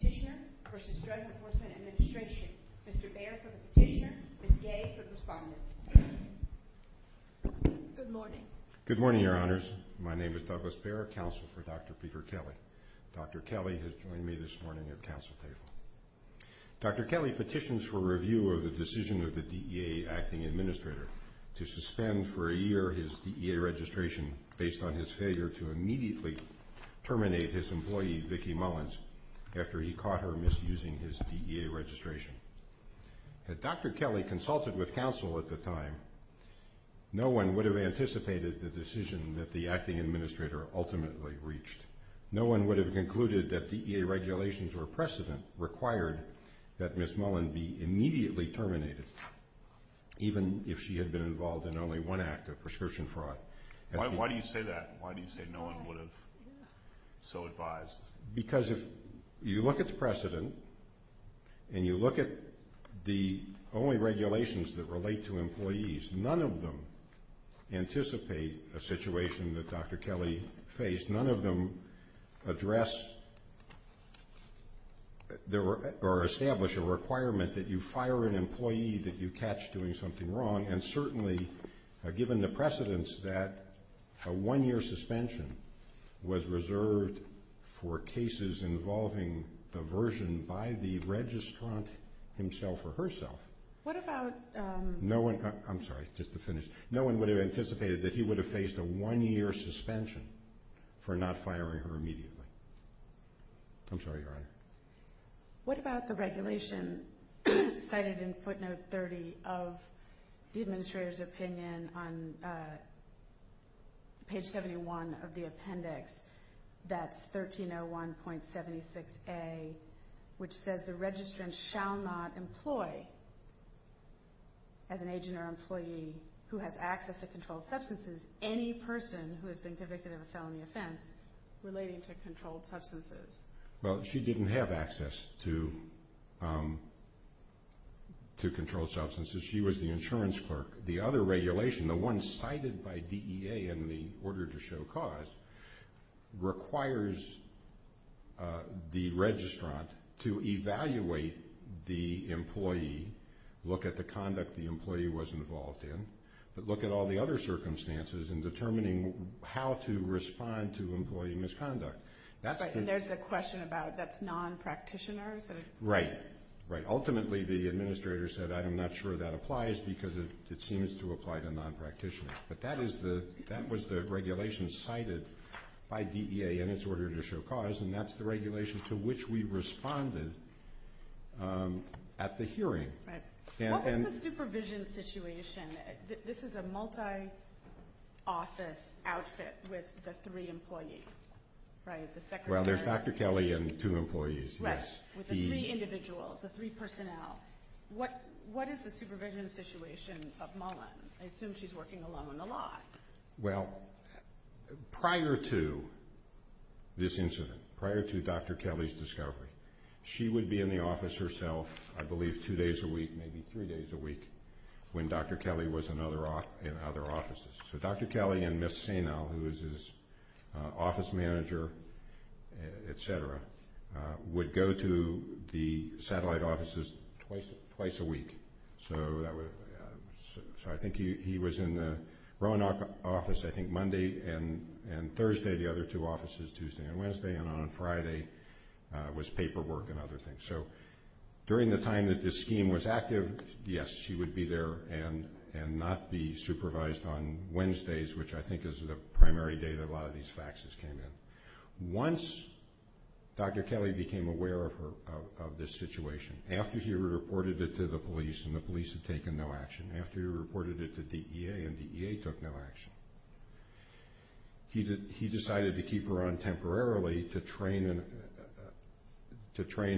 Petitioner for Sustained Enforcement Administration, Mr. Baer for the petitioner, and Gay for the respondent. Good morning. Good morning, your honors. My name is Douglas Baer, counsel for Dr. Peter Kelly. Dr. Kelly has joined me this morning, your counsel, please. Dr. Kelly petitions for review of the decision of the DEA Acting Administrator to suspend for a year his DEA registration based on his failure to immediately terminate his employee, Vicki Mullins, after he caught her misusing his DEA registration. Had Dr. Kelly consulted with counsel at the time, no one would have anticipated the decision that the Acting Administrator ultimately reached. No one would have concluded that DEA regulations were precedent required that Ms. Mullins be Why do you say that? Why do you say no one would have so advised? Because if you look at the precedent and you look at the only regulations that relate to employees, none of them anticipate a situation that Dr. Kelly faced. None of them address or establish a requirement that you fire an employee that you catch doing something wrong and certainly given the precedence that a one-year suspension was reserved for cases involving diversion by the registrant himself or herself. What about No one, I'm sorry, just to finish. No one would have anticipated that he would have faced a one-year suspension for not firing her immediately. I'm sorry, your honor. What about the regulation cited in footnote 30 of the Administrator's opinion on page 71 of the appendix, that's 1301.76a, which says the registrant shall not employ, as an agent or employee, who has access to controlled substances, any person who has been convicted of a felony offense relating to controlled substances? Well, she didn't have access to controlled substances. She was the insurance clerk. The other regulation, the one cited by DEA in the order to show cause, requires the registrant to evaluate the employee, look at the conduct the employee was involved in, but look at all the other circumstances in determining how to respond to employee misconduct. Right, and there's a question about that's non-practitioners. Right, right. Ultimately, the Administrator said, I'm not sure that applies because it seems to apply to non-practitioners. But that was the regulation cited by DEA in its order to show cause, and that's the regulation to which we responded at the hearing. Right. What about the supervision situation? This is a multi-office outfit with the three employees, right? Well, there's Dr. Kelly and two employees. Yes, with the three individuals, the three personnel. What is the supervision situation of Mullen? I assume she's working alone on the lot. Well, prior to this incident, prior to Dr. Kelly's discovery, she would be in the office herself, I believe two days a week, maybe three days a week, when Dr. Kelly was in other offices. So Dr. Kelly and Ms. Sainal, who was his office manager, et cetera, would go to the satellite offices twice a week. So I think he was in her own office, I think, Monday and Thursday, the other two offices, Tuesday and Wednesday, and on Friday was paperwork and other things. So during the time that this scheme was active, yes, she would be there and not be supervised on Wednesdays, which I think is the primary day that a lot of these faxes came in. Once Dr. Kelly became aware of this situation, after he reported it to the police, and the police had taken no action, after he reported it to DEA and DEA took no action, he decided to keep her on temporarily to train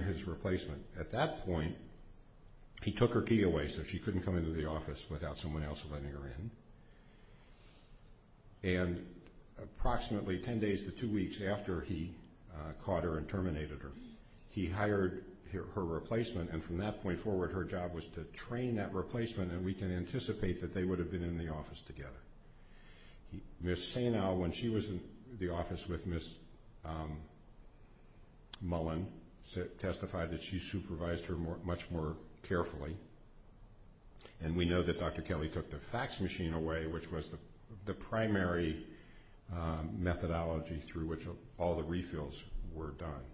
his replacement. At that point, he took her key away so she couldn't come into the office without someone else letting her in, and approximately ten days to two weeks after he caught her and terminated her, he hired her replacement, and from that point forward, her job was to train that replacement, and we can anticipate that they would have been in the office together. Ms. Senow, when she was in the office with Ms. Mullen, testified that she supervised her much more carefully, and we know that Dr. Kelly took the fax machine away, which was the primary methodology through which all the refills were done.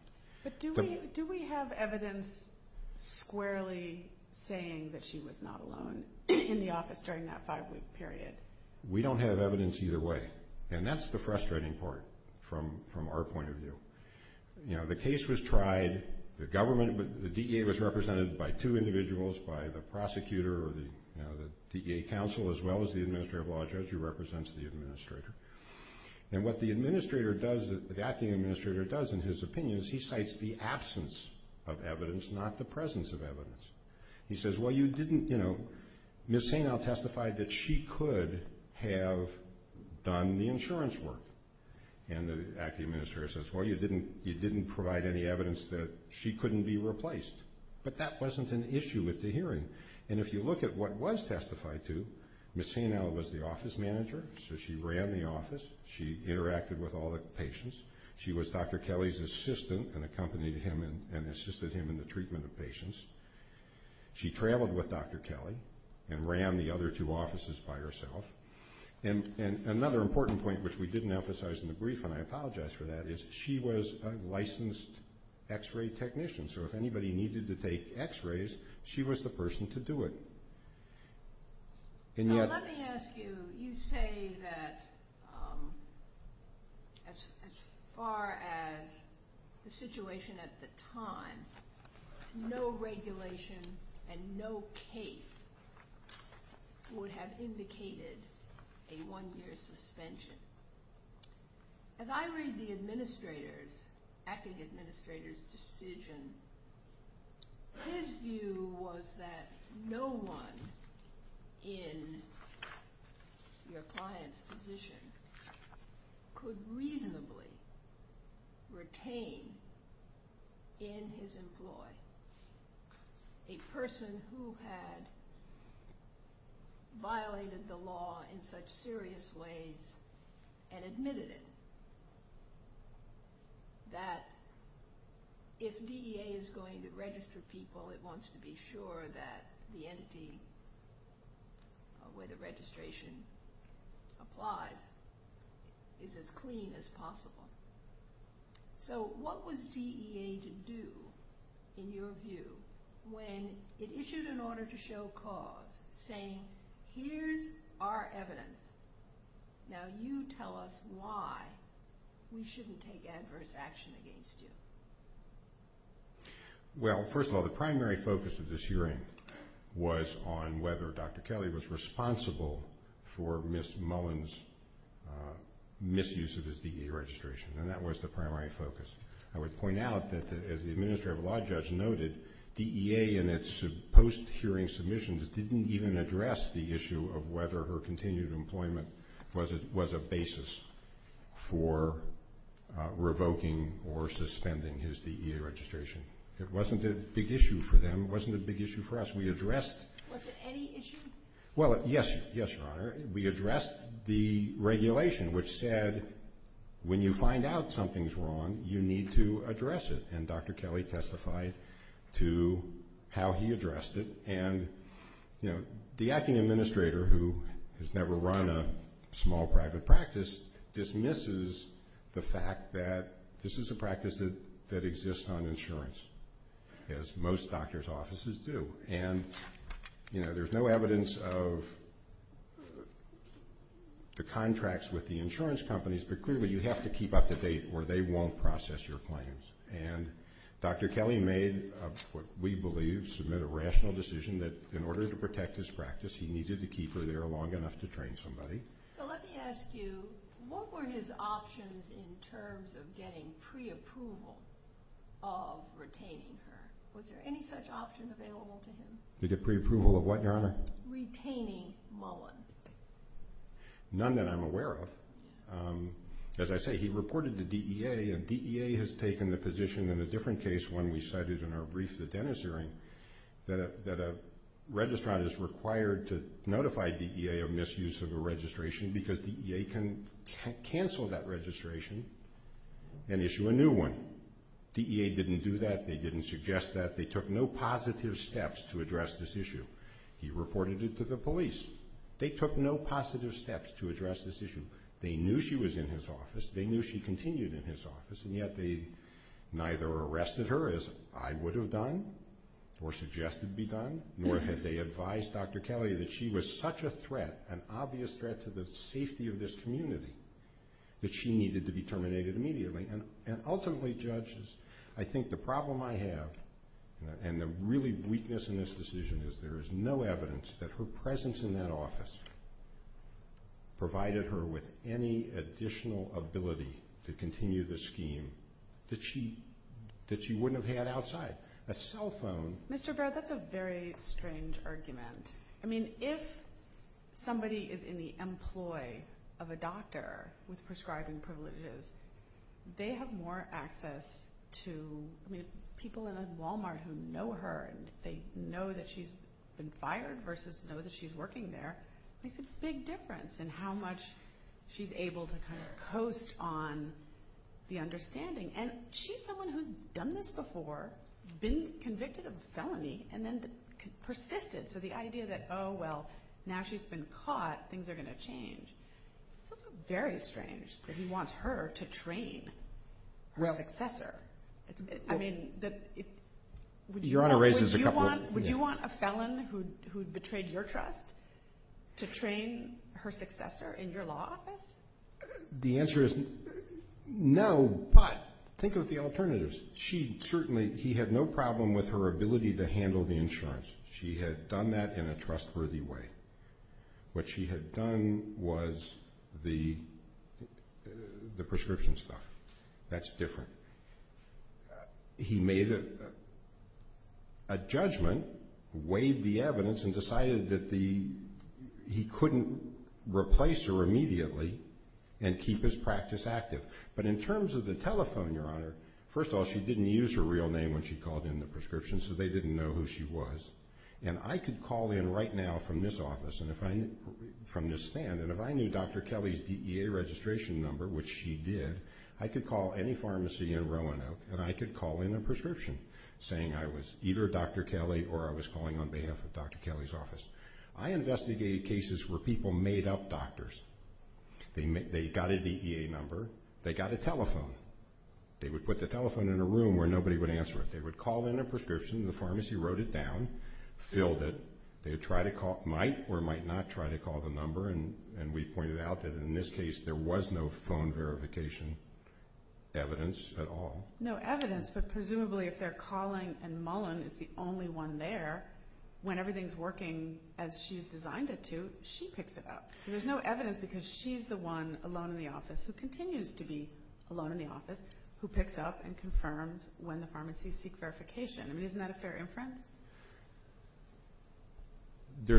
But do we have evidence squarely saying that she was not alone in the office during that five-week period? We don't have evidence either way, and that's the frustrating part from our point of view. You know, the case was tried, the government, the DEA was represented by two individuals, by the prosecutor or the DEA counsel as well as the administrative law judge who represents the administrator, and what the acting administrator does in his opinion is he cites the absence of evidence, not the presence of evidence. He says, well, you didn't, you know, Ms. Senow testified that she could have done the insurance work, and the acting administrator says, well, you didn't provide any evidence that she couldn't be replaced, but that wasn't an issue with the hearing, and if you look at what was testified to, Ms. Senow was the office manager, so she ran the office. She interacted with all the patients. She was Dr. Kelly's assistant and accompanied him and assisted him in the treatment of patients. She traveled with Dr. Kelly and ran the other two offices by herself, and another important point which we didn't emphasize in the brief, and I apologize for that, is she was a licensed x-ray technician, so if anybody needed to take x-rays, she was the person to do it. Let me ask you, you say that as far as the situation at the time, no regulation and no case would have indicated a one-year suspension. As I read the administrator's, acting administrator's decision, his view was that no one in your client's position could reasonably retain in his employ a person who had violated the law in such serious ways and admitted it, that if DEA is going to register people, it wants to be sure that the entity where the registration applies is as clean as possible. So what was DEA to do, in your view, when it issued an order to show cause, saying, here's our evidence, now you tell us why we shouldn't take adverse action against you? Well, first of all, the primary focus of this hearing was on whether Dr. Kelly was responsible for Ms. Mullen's misuse of his DEA registration, and that was the primary focus. I would point out that as the Administrative Law Judge noted, DEA in its post-hearing submissions didn't even address the issue of whether her continued employment was a basis for revoking or suspending his DEA registration. It wasn't a big issue for them, it wasn't a big issue for us, we addressed it. Was it any issue? Well, yes, Your Honor, we addressed the regulation which said when you find out something's wrong, you need to address it, and Dr. Kelly testified to how he addressed it. And, you know, the Acting Administrator, who has never run a small private practice, dismisses the fact that this is a practice that exists on insurance, as most doctor's offices do. And, you know, there's no evidence of the contracts with the insurance companies, but clearly you have to keep up to date or they won't process your claims. And Dr. Kelly made what we believe is a rational decision that in order to protect his practice, he needed to keep her there long enough to train somebody. So let me ask you, what were his options in terms of getting pre-approval of retaining her? Was there any such option available to him? To get pre-approval of what, Your Honor? Retaining Mullen. None that I'm aware of. As I say, he reported to DEA, and DEA has taken the position in a different case, one we cited in our brief to the dentistry, that a registrant is required to notify DEA of misuse of a registration because DEA can cancel that registration and issue a new one. DEA didn't do that. They didn't suggest that. They took no positive steps to address this issue. He reported it to the police. They took no positive steps to address this issue. They knew she was in his office. They knew she continued in his office, and yet they neither arrested her as I would have done or suggested be done, nor had they advised Dr. Kelly that she was such a threat, an obvious threat to the safety of this community, that she needed to be terminated immediately. And ultimately, judges, I think the problem I have, and the really weakness in this decision, is there is no evidence that her presence in that office provided her with any additional ability to continue the scheme that she wouldn't have had outside. A cell phone. Mr. Baird, that's a very strange argument. I mean, if somebody is in the employ of a doctor with prescribing privileges, they have more access to people in a Walmart who know her, and they know that she's been fired versus know that she's working there. It makes a big difference in how much she's able to coast on the understanding. And she's someone who's done this before, been convicted of a felony, and then persisted to the idea that, oh, well, now she's been caught, things are going to change. It's very strange that he wants her to train her successor. I mean, would you want a felon who betrayed your trust to train her successor in your law office? The answer is no, but think of the alternatives. He had no problem with her ability to handle the insurance. She had done that in a trustworthy way. What she had done was the prescription stuff. That's different. He made a judgment, weighed the evidence, and decided that he couldn't replace her immediately and keep his practice active. But in terms of the telephone, Your Honor, first of all, she didn't use her real name when she called in the prescription, so they didn't know who she was. And I could call in right now from this office, from this stand, and if I knew Dr. Kelly's DEA registration number, which she did, I could call any pharmacy in Roanoke and I could call in a prescription saying I was either Dr. Kelly or I was calling on behalf of Dr. Kelly's office. I investigated cases where people made up doctors. They got a DEA number. They got a telephone. They would put the telephone in a room where nobody would answer it. They would call in a prescription. The pharmacy wrote it down, filled it. They might or might not try to call the number, and we pointed out that in this case there was no phone verification evidence at all. No evidence, but presumably if they're calling and Mullen is the only one there, when everything's working as she's designed it to, she picks it up. There's no evidence because she's the one alone in the office, who continues to be alone in the office, who picks up and confirms when the pharmacies seek verification. I mean, isn't that a fair inference? There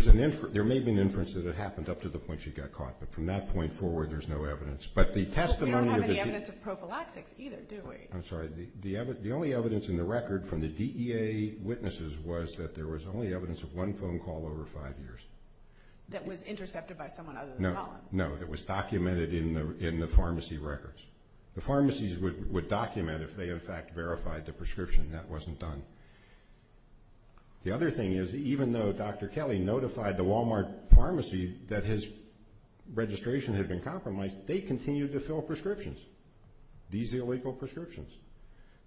may have been inferences that it happened up to the point she got caught, but from that point forward there's no evidence. But the testimony of the DEA. We don't have any evidence of prophylactics either, do we? I'm sorry. The only evidence in the record from the DEA witnesses was that there was only evidence of one phone call over five years. That was intercepted by someone other than Mullen. No, no. It was documented in the pharmacy records. The pharmacies would document if they in fact verified the prescription. That wasn't done. The other thing is even though Dr. Kelly notified the Walmart pharmacy that his registration had been compromised, they continued to fill prescriptions, these illegal prescriptions.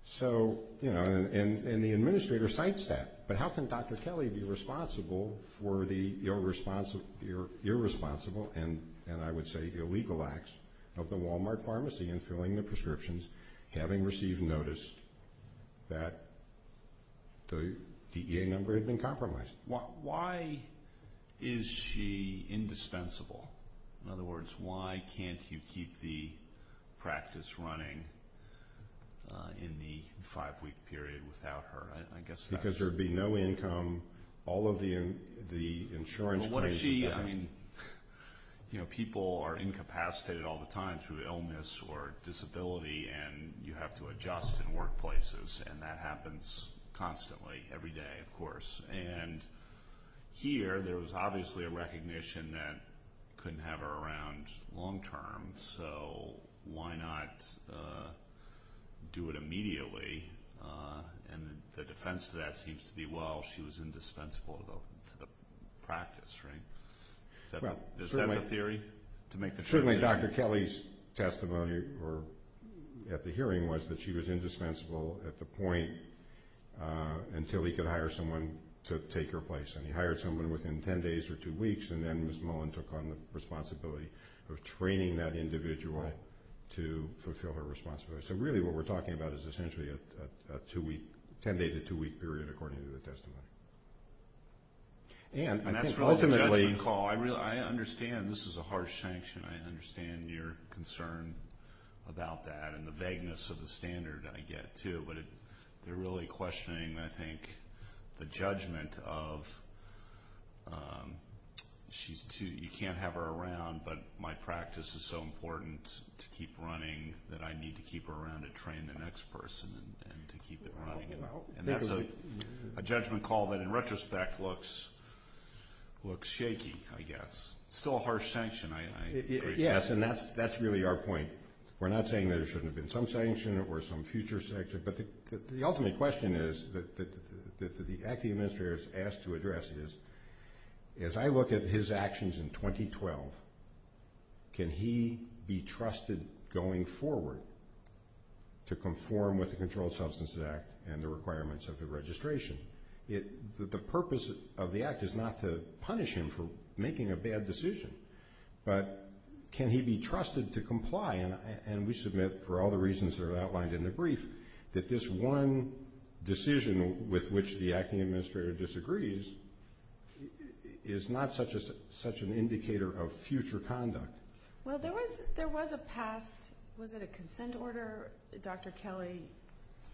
So, you know, and the administrator cites that, but how can Dr. Kelly be responsible for the irresponsible and I would say illegal acts of the Walmart pharmacy in filling the prescriptions having received notice that the DEA member had been compromised? Why is she indispensable? In other words, why can't you keep the practice running in the five-week period without her? Because there would be no income. All of the insurance pays for that. But what if she, I mean, you know, people are incapacitated all the time through illness or disability and you have to adjust in workplaces, and that happens constantly every day, of course. And here there was obviously a recognition that you couldn't have her around long term, so why not do it immediately? And the defense to that seems to be, well, she was indispensable to the practice, right? Is that a theory? Certainly Dr. Kelly's testimony at the hearing was that she was indispensable at the point until he could hire someone to take her place. And he hired someone within 10 days or two weeks, and then Ms. Mullen took on the responsibility of training that individual to fulfill her responsibility. So really what we're talking about is essentially a two-week, 10-day to two-week period according to the testimony. Ann, I think ultimately. I understand this is a harsh sanction. I understand your concern about that and the vagueness of the standard I get, too. But they're really questioning, I think, the judgment of you can't have her around, but my practice is so important to keep running that I need to keep her around to train the next person and to keep it running. And that's a judgment call that in retrospect looks shaky, I guess. It's still a harsh sanction, I appreciate that. Yes, and that's really our point. We're not saying there shouldn't have been some sanction or some future sanction, but the ultimate question is that the acting administrator is asked to address is, as I look at his actions in 2012, can he be trusted going forward to conform with the Controlled Substances Act and the requirements of the registration? The purpose of the act is not to punish him for making a bad decision, but can he be trusted to comply? And we submit, for all the reasons that are outlined in the brief, that this one decision with which the acting administrator disagrees is not such an indicator of future conduct. Well, there was a past, was it a consent order? Dr. Kelly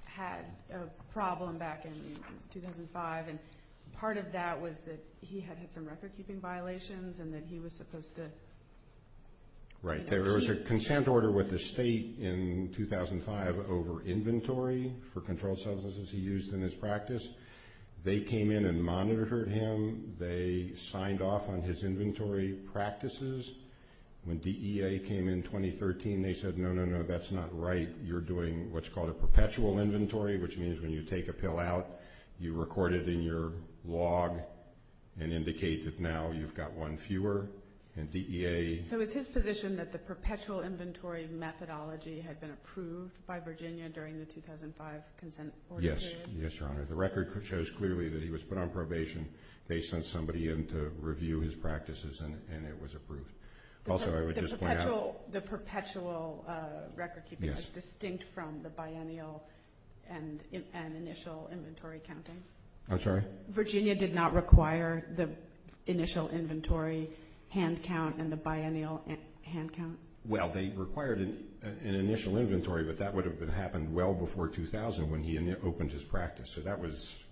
had a problem back in 2005, and part of that was that he had had some record-keeping violations and that he was supposed to... Right, there was a consent order with the state in 2005 over inventory for controlled substances he used in his practice. They came in and monitored him. They signed off on his inventory practices. When DEA came in 2013, they said, no, no, no, that's not right. You're doing what's called a perpetual inventory, which means when you take a pill out, you record it in your log and indicate that now you've got one fewer, and DEA... So is his position that the perpetual inventory methodology had been approved by Virginia during the 2005 consent order period? Yes, Your Honor. The record shows clearly that he was put on probation. They sent somebody in to review his practices, and it was approved. Also, I would just point out... The perpetual record-keeping is distinct from the biennial and initial inventory counting? I'm sorry? Virginia did not require the initial inventory hand count and the biennial hand count? Well, they required an initial inventory, but that would have happened well before 2000 when he opened his practice. So that was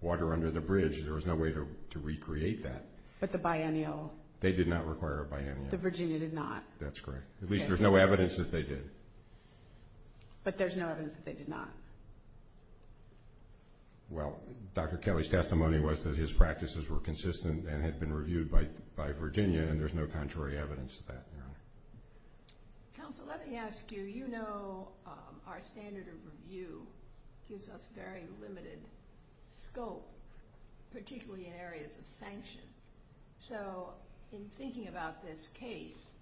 water under the bridge. There was no way to recreate that. But the biennial... They did not require a biennial. The Virginia did not. That's correct. At least there's no evidence that they did. But there's no evidence that they did not. Well, Dr. Kelly's testimony was that his practices were consistent and had been reviewed by Virginia, and there's no contrary evidence to that, Your Honor. Counsel, let me ask you. You know our standard of review gives us very limited scope, particularly in areas of sanction. So in thinking about this case,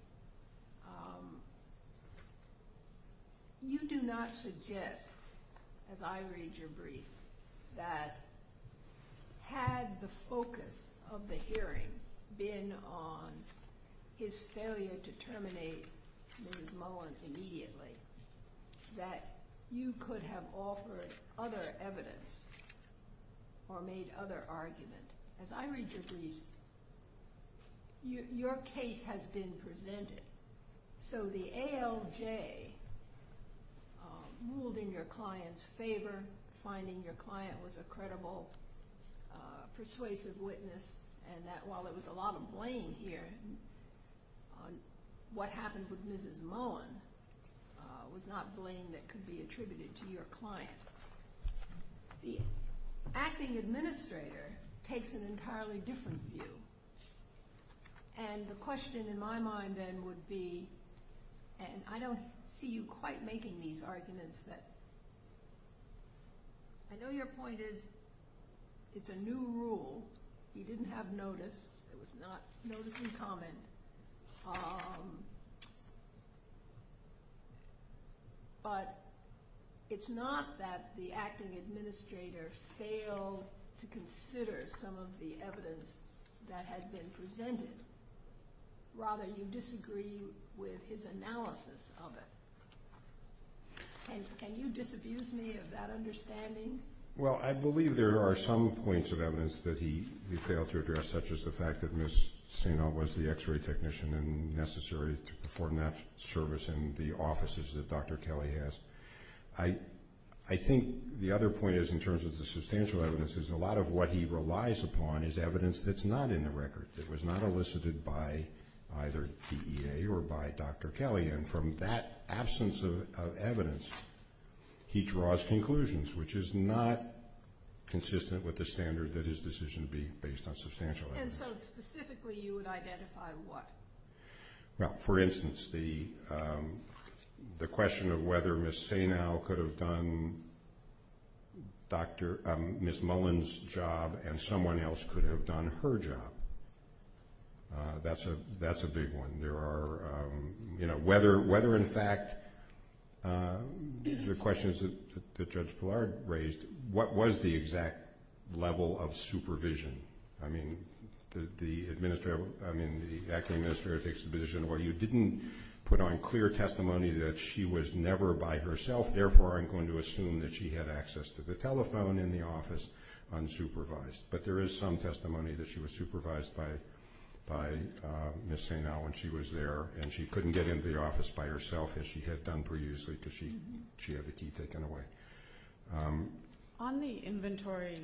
you do not suggest, as I read your brief, that had the focus of the hearing been on his failure to terminate Ms. Mullen immediately, that you could have offered other evidence or made other arguments. As I read your brief, your case has been presented. So the ALJ moving your client's favor, finding your client was a credible, persuasive witness, and that while there was a lot of blame here, what happened with Mrs. Mullen was not blame that could be attributed to your client. The acting administrator takes an entirely different view, and the question in my mind then would be, and I don't see you quite making these arguments, but I know your point is it's a new rule. You didn't have notice. It was not notice and comment. But it's not that the acting administrator failed to consider some of the evidence that has been presented. Rather, you disagree with his analysis of it. Can you disabuse me of that understanding? Well, I believe there are some points of evidence that he failed to address, such as the fact that Ms. Stengel was the x-ray technician and necessary to perform that service in the offices that Dr. Kelly has. I think the other point is, in terms of the substantial evidence, is a lot of what he relies upon is evidence that's not in the record, that was not elicited by either DEA or by Dr. Kelly. And from that absence of evidence, he draws conclusions, which is not consistent with the standard that his decision be based on substantial evidence. And so specifically you would identify what? For instance, the question of whether Ms. Stengel could have done Ms. Mullen's job and someone else could have done her job. That's a big one. Whether, in fact, these are questions that Judge Blard raised, what was the exact level of supervision? I mean, the Acting Administrator takes a position where you didn't put on clear testimony that she was never by herself, therefore I'm going to assume that she had access to the telephone in the office unsupervised. But there is some testimony that she was supervised by Ms. Stengel when she was there, and she couldn't get into the office by herself as she had done previously because she had the key taken away. On the inventory,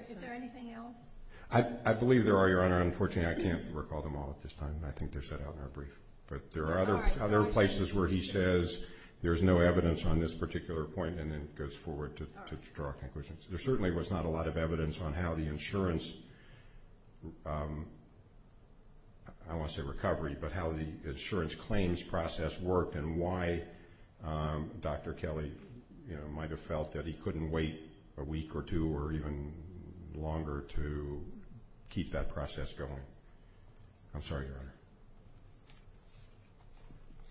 is there anything else? I believe there are, Your Honor. Unfortunately, I can't recall them all at this time. I think they're set out in our brief. But there are other places where he says there's no evidence on this particular point and then goes forward to draw conclusions. There certainly was not a lot of evidence on how the insurance, I don't want to say recovery, but how the insurance claims process worked and why Dr. Kelly might have felt that he couldn't wait a week or two or even longer to keep that process going. I'm sorry, Your Honor.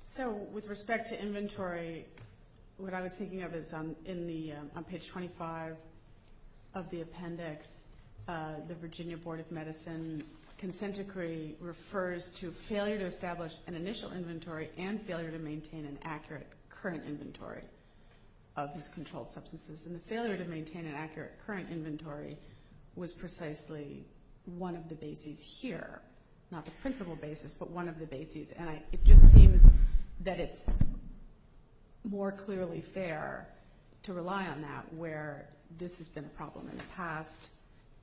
So with respect to inventory, what I was thinking of is on page 25 of the appendix, the Virginia Board of Medicine consent decree refers to failure to establish an initial inventory and failure to maintain an accurate current inventory of controlled substances. And the failure to maintain an accurate current inventory was precisely one of the bases here, not the principal basis, but one of the bases. And it just seems that it's more clearly fair to rely on that where this has been a problem in the past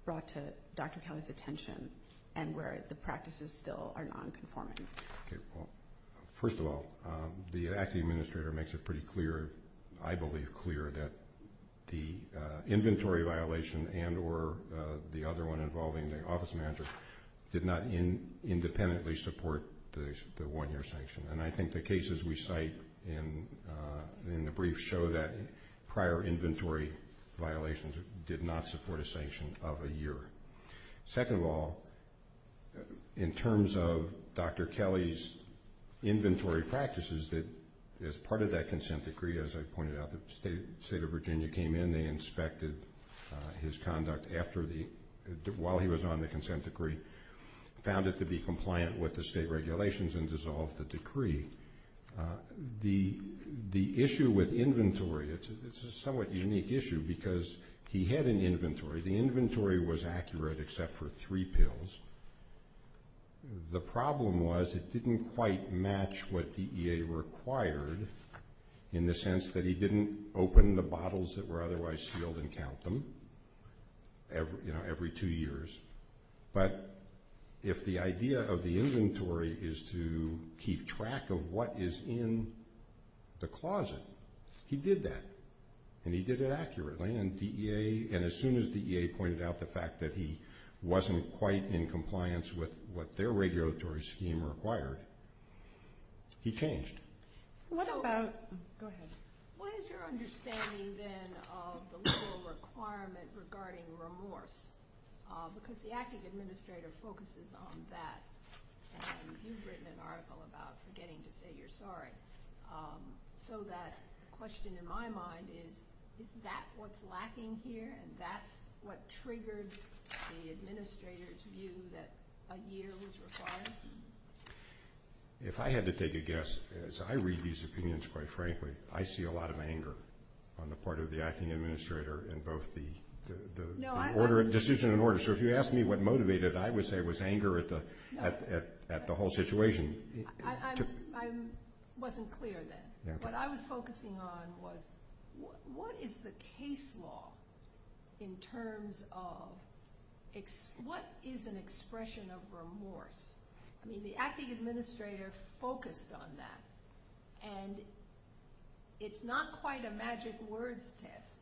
brought to Dr. Kelly's attention and where the practices still are nonconforming. First of all, the acting administrator makes it pretty clear, I believe clear, that the inventory violation and or the other one involving the office manager did not independently support the one-year sanction. And I think the cases we cite in the brief show that prior inventory violations did not support a sanction of a year. Second of all, in terms of Dr. Kelly's inventory practices, as part of that consent decree, as I pointed out, the State of Virginia came in. They inspected his conduct while he was on the consent decree, found it to be compliant with the state regulations, and dissolved the decree. The issue with inventory, it's a somewhat unique issue because he had an inventory. The inventory was accurate except for three pills. The problem was it didn't quite match what DEA required in the sense that he didn't open the bottles that were otherwise sealed and count them every two years. But if the idea of the inventory is to keep track of what is in the closet, he did that, and he did it accurately. And as soon as DEA pointed out the fact that he wasn't quite in compliance with what their regulatory scheme required, he changed. Go ahead. What is your understanding, then, of the legal requirement regarding remorse? Because the active administrator focuses on that. You've written an article about forgetting to say you're sorry. So that question in my mind is, is that what's lacking here, and that's what triggered the administrator's view that a year was required? If I had to take a guess, as I read these opinions, quite frankly, I see a lot of anger on the part of the acting administrator in both the decision and order. So if you ask me what motivated it, I would say it was anger at the whole situation. I wasn't clear then. What I was focusing on was what is the case law in terms of what is an expression of remorse The acting administrator focused on that, and it's not quite a magic word test,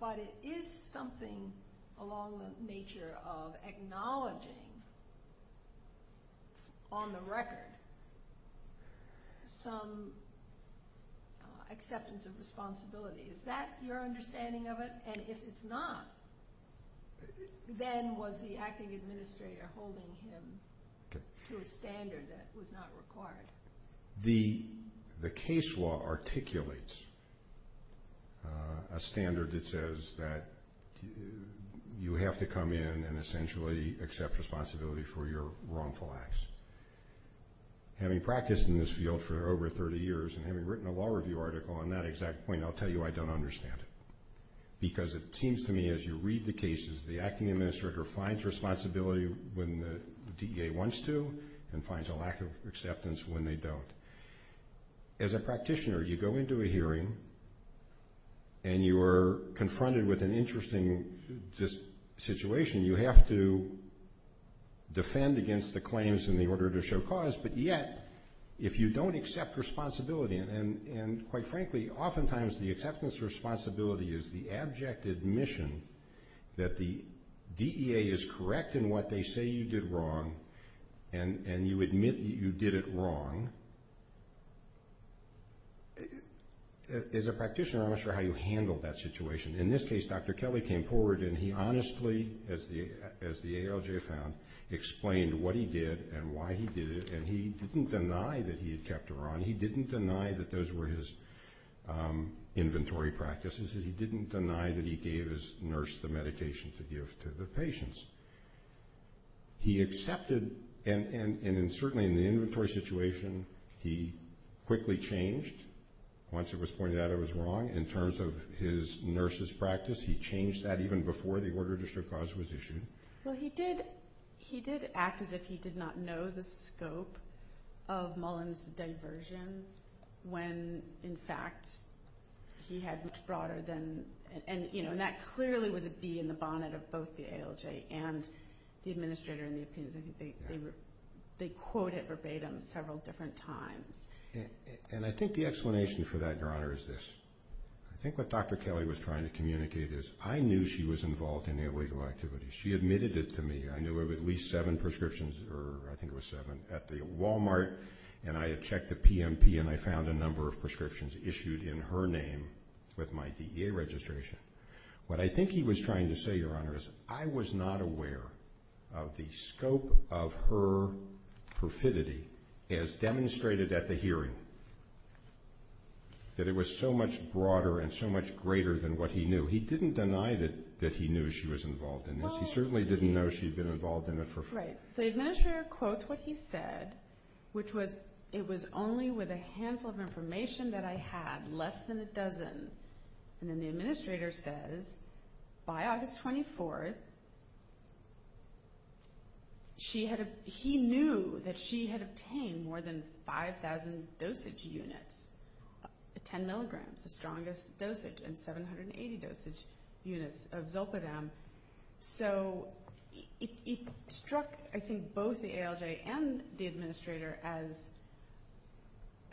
but it is something along the nature of acknowledging on the record some acceptance of responsibility. Is that your understanding of it? And if it's not, then was the acting administrator holding him to a standard that was not required? The case law articulates a standard that says that you have to come in and essentially accept responsibility for your wrongful acts. Having practiced in this field for over 30 years and having written a law review article on that exact point, I'll tell you I don't understand it because it seems to me as you read the cases, the acting administrator finds responsibility when the DEA wants to and finds a lack of acceptance when they don't. As a practitioner, you go into a hearing and you are confronted with an interesting situation. You have to defend against the claims in the order to show cause, but yet if you don't accept responsibility, and quite frankly, oftentimes the acceptance of responsibility is the abject admission that the DEA is correct in what they say you did wrong and you admit you did it wrong. As a practitioner, I'm not sure how you handle that situation. In this case, Dr. Kelly came forward and he honestly, as the ALJ found, explained what he did and why he did it, and he didn't deny that he had kept it wrong. He didn't deny that those were his inventory practices. He didn't deny that he gave his nurse the medication to give to the patients. He accepted, and certainly in the inventory situation, he quickly changed. Once it was pointed out it was wrong. In terms of his nurse's practice, he changed that even before the order to show cause was issued. Well, he did act as if he did not know the scope of Mullen's diversion when, in fact, he had much broader than, and that clearly would be in the bonnet of both the ALJ and the administrator, and they quoted verbatim several different times. And I think the explanation for that, Your Honor, is this. I think what Dr. Kelly was trying to communicate is I knew she was involved in the illegal activities. She admitted it to me. I knew of at least seven prescriptions, or I think it was seven, at the Walmart, and I checked the PMP and I found a number of prescriptions issued in her name with my DEA registration. What I think he was trying to say, Your Honor, is I was not aware of the scope of her profidity as demonstrated at the hearing, that it was so much broader and so much greater than what he knew. So he didn't deny that he knew she was involved in this. He certainly didn't know she'd been involved in it for five years. Right. So the administrator quotes what he said, which was, it was only with a handful of information that I had, less than a dozen. And then the administrator says, by August 24th, he knew that she had obtained more than 5,000 dosage units, 10 milligrams, the strongest dosage in 780 dosage units of Zolpidem. So it struck, I think, both the ALJ and the administrator as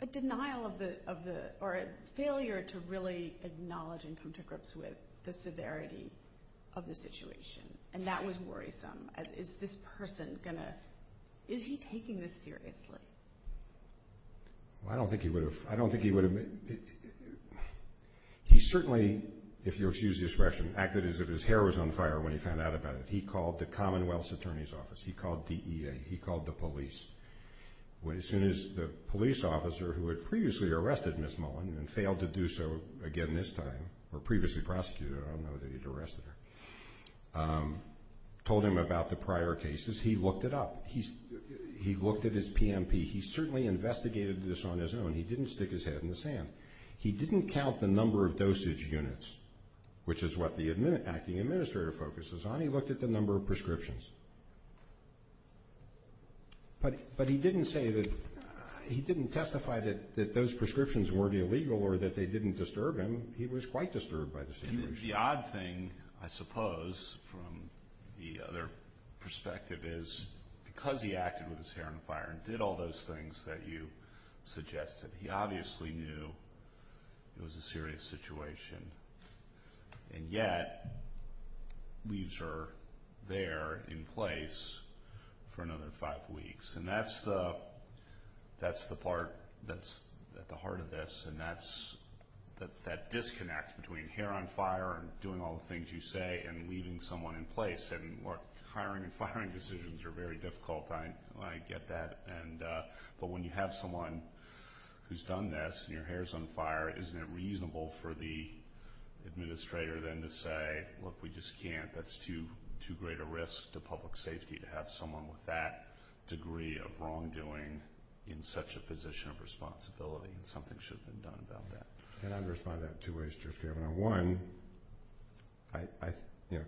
a denial of the, or a failure to really acknowledge and come to grips with the severity of the situation. And that was worrisome. Is this person going to, is he taking this seriously? Well, I don't think he would have. I don't think he would have. He certainly, if you'll excuse the expression, acted as if his hair was on fire when he found out about it. He called the Commonwealth's Attorney's Office. He called DEA. He called the police. As soon as the police officer, who had previously arrested Ms. Mullen and failed to do so again this time, or previously prosecuted, I don't know that he'd arrested her, told him about the prior cases, he looked it up. He looked at his PMP. He certainly investigated this on his own. He didn't stick his head in the sand. He didn't count the number of dosage units, which is what the administrator focuses on. He looked at the number of prescriptions. But he didn't say that, he didn't testify that those prescriptions were illegal or that they didn't disturb him. He was quite disturbed by this image. The odd thing, I suppose, from the other perspective is because he acted with his hair on fire and did all those things that you suggested, he obviously knew it was a serious situation, and yet leaves her there in place for another five weeks. And that's the part that's at the heart of this. And that's that disconnect between hair on fire and doing all the things you say and leaving someone in place. Hiring and firing decisions are very difficult. I get that. But when you have someone who's done this and your hair's on fire, isn't it reasonable for the administrator then to say, well, if we just can't, that's too great a risk to public safety to have someone with that degree of wrongdoing in such a position of responsibility, and something should be done about that. And I would respond to that in two ways, Jeff. One,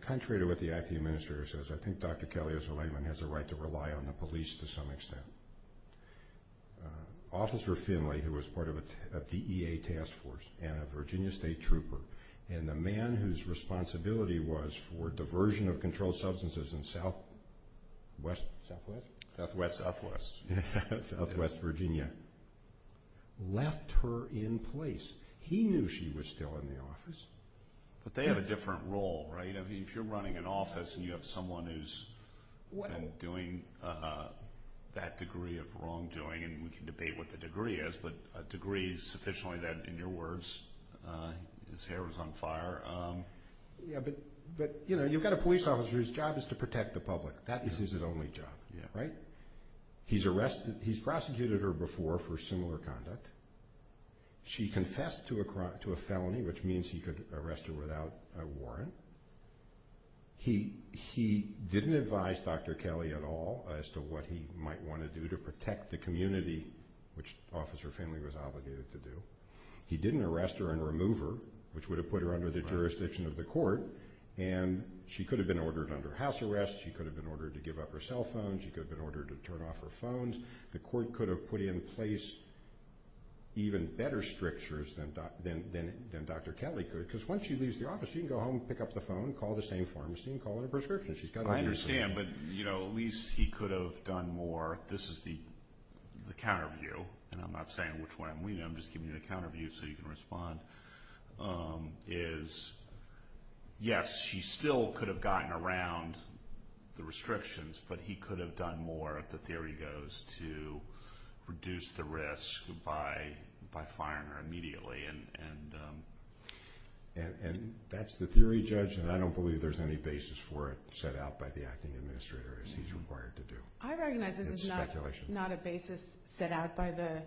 contrary to what the acting administrator says, I think Dr. Kelly has a right to rely on the police to some extent. Officer Finley, who was part of a DEA task force and a Virginia State trooper, and the man whose responsibility was for diversion of controlled substances in southwest Virginia, left her in place. He knew she was still in the office. But they had a different role, right? I mean, if you're running an office and you have someone who's been doing that degree of wrongdoing, and we can debate what the degree is, but a degree sufficiently that, in your words, his hair was on fire. Yeah, but, you know, you've got a police officer whose job is to protect the public. That is his only job, right? He's arrested, he's prosecuted her before for similar conduct. She confessed to a felony, which means he could arrest her without a warrant. He didn't advise Dr. Kelly at all as to what he might want to do to protect the community, which Officer Finley was obligated to do. He didn't arrest her and remove her, which would have put her under the jurisdiction of the court, and she could have been ordered under house arrest, she could have been ordered to give up her cell phone, she could have been ordered to turn off her phones. The court could have put in place even better strictures than Dr. Kelly could, because once she leaves the office, she can go home and pick up the phone and call the same pharmacy and call her prescription. I understand, but, you know, at least he could have done more. This is the counter view, and I'm not saying which way I'm leaning, I'm just giving you the counter view so you can respond, is yes, she still could have gotten around the restrictions, but he could have done more, depending on what the theory goes, to reduce the risk by firing her immediately. And that's the theory, Judge, and I don't believe there's any basis for it set out by the acting administrator, as he's required to do. I recognize there's not a basis set out by the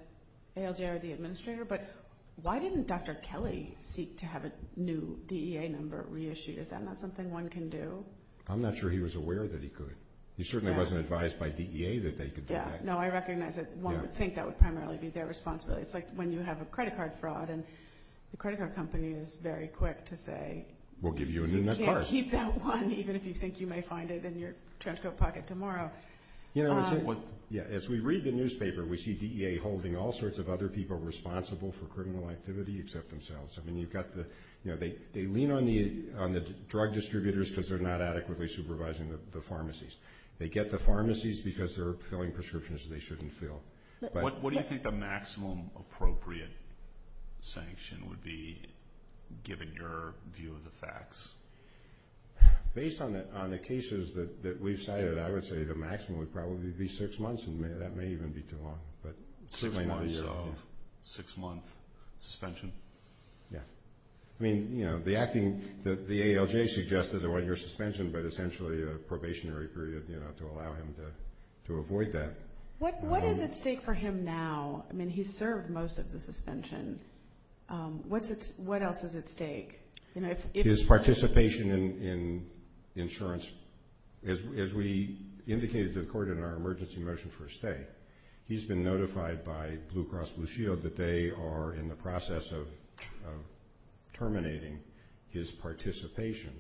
ALJ or the administrator, but why didn't Dr. Kelly seek to have a new DEA number reissued? Is that not something one can do? I'm not sure he was aware that he could. He certainly wasn't advised by DEA that they could do that. Yeah, no, I recognize that one would think that would primarily be their responsibility. It's like when you have a credit card fraud, and the credit card company is very quick to say... We'll give you a new number. ...you can't keep that one, even if you think you may find it in your dresscoat pocket tomorrow. Yeah, as we read the newspaper, we see DEA holding all sorts of other people responsible for criminal activity except themselves. They lean on the drug distributors because they're not adequately supervising the pharmacies. They get the pharmacies because they're filling prescriptions they shouldn't fill. What do you think the maximum appropriate sanction would be, given your view of the facts? Based on the cases that we've cited, I would say the maximum would probably be six months, and that may even be too long. Six months, so six-month suspension? Yeah. I mean, you know, the acting that the ALJ suggested that wasn't your suspension, but essentially a probationary period to allow him to avoid that. What does it take for him now? I mean, he's served most of the suspension. What else does it take? His participation in insurance. As we indicated to the court in our emergency motion for a stay, he's been notified by Blue Cross Blue Shield that they are in the process of terminating his participation.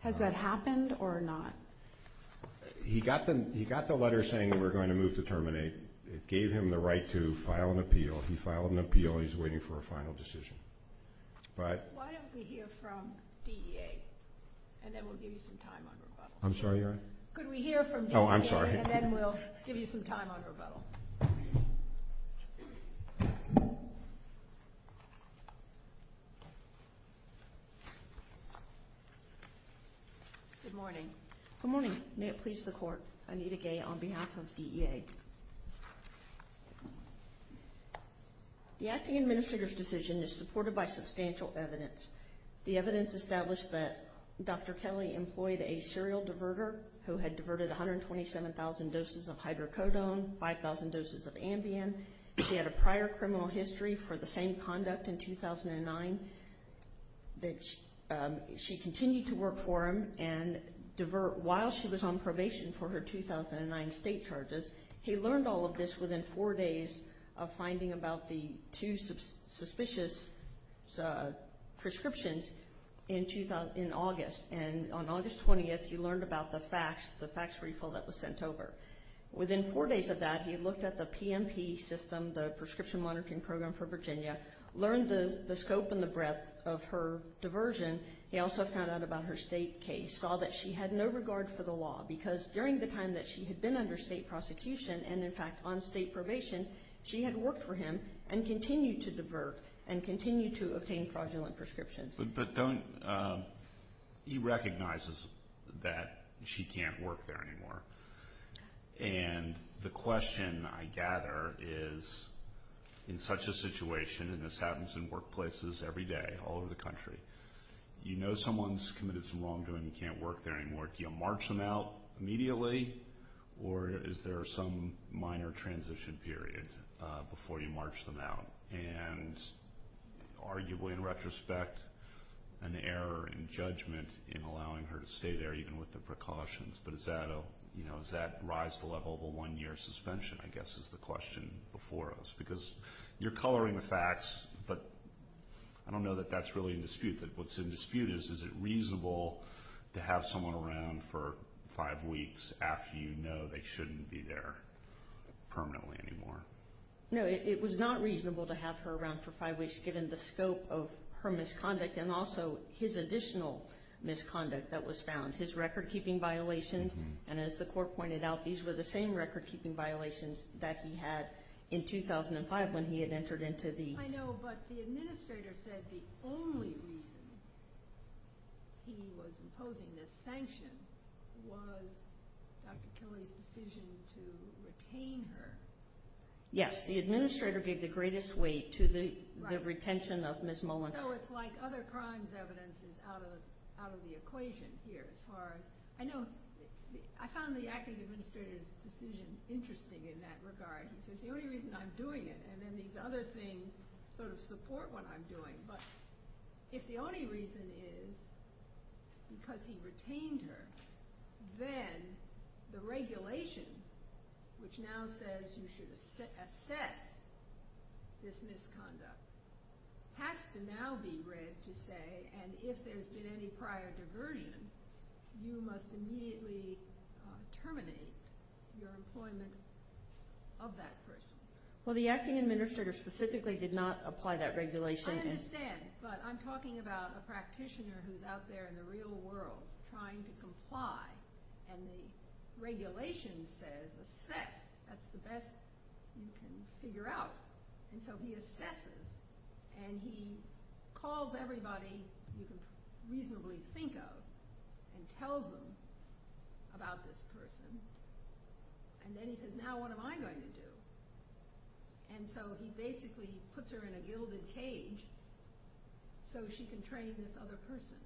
Has that happened or not? He got the letter saying we're going to move to terminate. It gave him the right to file an appeal. He filed an appeal. He's waiting for a final decision. Why don't we hear from DEA, and then we'll give you some time on rebuttal. I'm sorry, Your Honor? Could we hear from DEA, and then we'll give you some time on rebuttal. Good morning. Good morning. May it please the Court, Anita Gay on behalf of DEA. The acting administrator's decision is supported by substantial evidence. The evidence established that Dr. Kelly employed a serial diverter who had diverted 127,000 doses of hydrocodone, 5,000 doses of Ambien. She had a prior criminal history for the same conduct in 2009. She continued to work for him and divert while she was on probation for her 2009 state charges. He learned all of this within four days of finding about the two suspicious prescriptions in August. And on August 20th, he learned about the fax, the fax refill that was sent over. Within four days of that, he looked at the PMP system, the Prescription Monitoring Program for Virginia, learned the scope and the breadth of her diversion. He also found out about her state case, saw that she had no regard for the law, because during the time that she had been under state prosecution and, in fact, on state probation, she had worked for him and continued to divert and continued to obtain fraudulent prescriptions. But don't – he recognizes that she can't work there anymore. And the question I gather is, in such a situation, and this happens in workplaces every day all over the country, you know someone's committed some wrongdoing and can't work there anymore. Do you march them out immediately, or is there some minor transition period before you march them out? And arguably, in retrospect, an error in judgment in allowing her to stay there, even with the precautions. But is that a – you know, does that rise to the level of a one-year suspension, I guess, is the question before us? Because you're coloring the fax, but I don't know that that's really in dispute. But what's in dispute is, is it reasonable to have someone around for five weeks after you know they shouldn't be there permanently anymore? No, it was not reasonable to have her around for five weeks, given the scope of her misconduct and also his additional misconduct that was found, his record-keeping violations. And as the court pointed out, these were the same record-keeping violations that he had in 2005 when he had entered into the – I know, but the administrator said the only reason he was imposing this sanction was Dr. Kelly's decision to retain her. Yes, the administrator gave the greatest weight to the retention of Ms. Mullins. So it's like other crimes evidence is out of the equation here, as far as – I know – I found the active administrator's decision interesting in that regard, because the only reason I'm doing it, and then these other things sort of support what I'm doing, but if the only reason is because he retained her, then the regulation, which now says you should assess this misconduct, has to now be read to say, and if there's been any prior diversion, you must immediately terminate your employment of that person. Well, the acting administrator specifically did not apply that regulation. I understand, but I'm talking about a practitioner who's out there in the real world trying to comply, and the regulation says assess. That's the best you can figure out. And so he assesses, and he calls everybody you can reasonably think of and tells them about this person, and then he says, now what am I going to do? And so he basically puts her in a gilded cage so she can train this other person.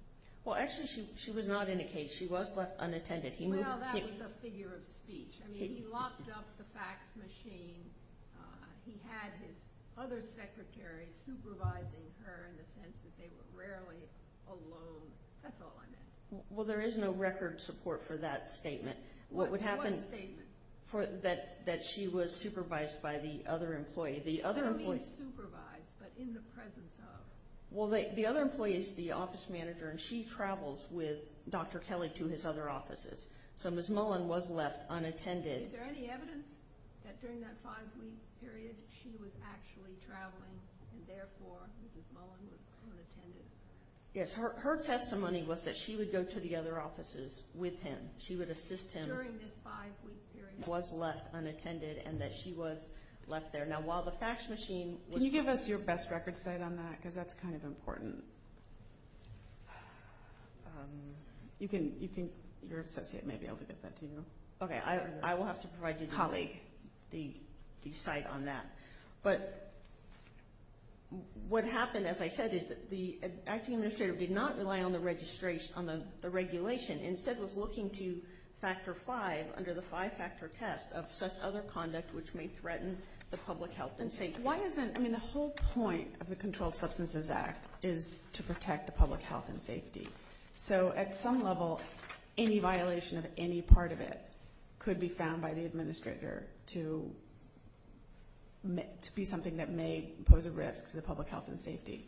Well, actually, she was not in a cage. She was unattended. Well, that was a figure of speech. I mean, he locked up the fax machine. He had his other secretary supervising her in the sense that they were rarely alone. That's all I know. Well, there is no record support for that statement. What statement? That she was supervised by the other employee. She was supervised, but in the presence of. Well, the other employee is the office manager, and she travels with Dr. Kelly to his other offices. So Ms. Mullen was left unattended. Is there any evidence that during that five-week period she was actually traveling, and therefore Ms. Mullen was unattended? Yes, her testimony was that she would go to the other offices with him. She would assist him. During this five-week period. Was left unattended and that she was left there. Now, while the fax machine. Can you give us your best record state on that, because that's kind of important. You think your associate may be able to get that to you? Okay, I will have to provide you the site on that. But what happened, as I said, is that the acting administrator did not rely on the regulation. Instead was looking to factor five under the five-factor test of such other conduct which may threaten the public health and safety. I mean, the whole point of the Controlled Substances Act is to protect the public health and safety. So at some level, any violation of any part of it could be found by the administrator to be something that may pose a risk to the public health and safety.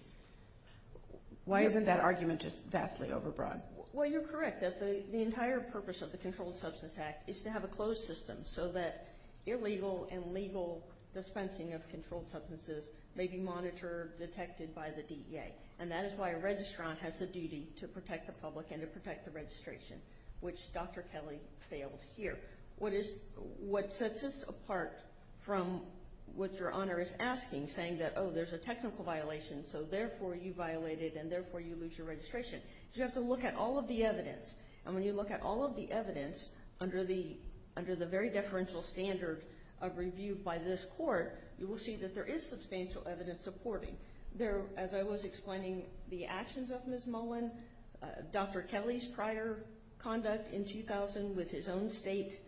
Why isn't that argument just vastly overbroad? Well, you're correct. The entire purpose of the Controlled Substances Act is to have a closed system, so that illegal and legal dispensing of controlled substances may be monitored, detected by the DEA. And that is why a registrant has the duty to protect the public and to protect the registration, which Dr. Kelly fails here. What sets this apart from what your honor is asking, saying that, oh, there's a technical violation, so therefore you violated and therefore you lose your registration. You have to look at all of the evidence. And when you look at all of the evidence under the very deferential standard of review by this court, you will see that there is substantial evidence supporting. As I was explaining, the actions of Ms. Mullen, Dr. Kelly's prior conduct in 2000 with his own state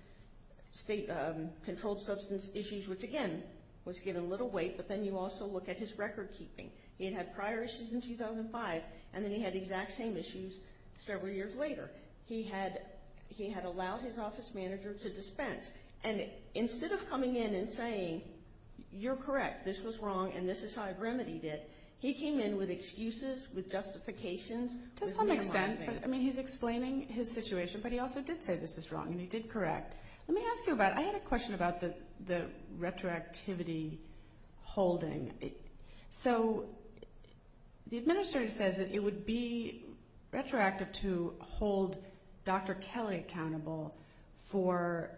controlled substance issues, which, again, was given little weight, but then you also look at his record keeping. He had had prior issues in 2005, and then he had exact same issues several years later. He had allowed his office manager to dispense. And instead of coming in and saying, you're correct, this was wrong, and this is how I've remedied it, he came in with excuses, with justifications. To some extent. I mean, he's explaining his situation, but he also did say this is wrong, and he did correct. Let me ask you about, I had a question about the retroactivity holding. So the administrator says that it would be retroactive to hold Dr. Kelly accountable for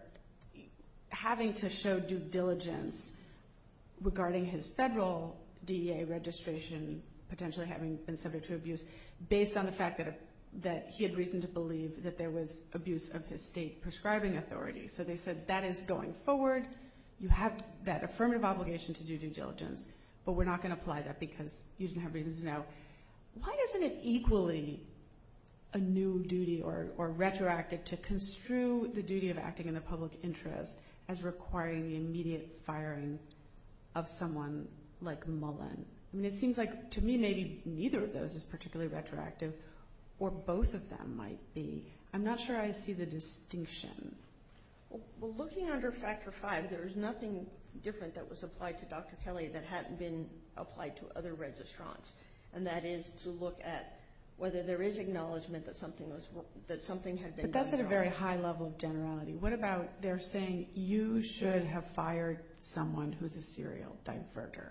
having to show due diligence regarding his federal DEA registration, potentially having been subject to abuse, based on the fact that he had reason to believe that there was abuse of his state prescribing authority. So they said that is going forward, you have that affirmative obligation to do due diligence, but we're not going to apply that because you didn't have reason to know. Why isn't it equally a new duty or retroactive to construe the duty of acting in the public interest as requiring the immediate firing of someone like Mullen? I mean, it seems like, to me, maybe neither of those is particularly retroactive, or both of them might be. I'm not sure I see the distinction. Well, looking under Factor 5, there is nothing different that was applied to Dr. Kelly that hadn't been applied to other registrants, and that is to look at whether there is acknowledgement that something had been done. But that's at a very high level of generality. What about, they're saying you should have fired someone who's a serial diverter.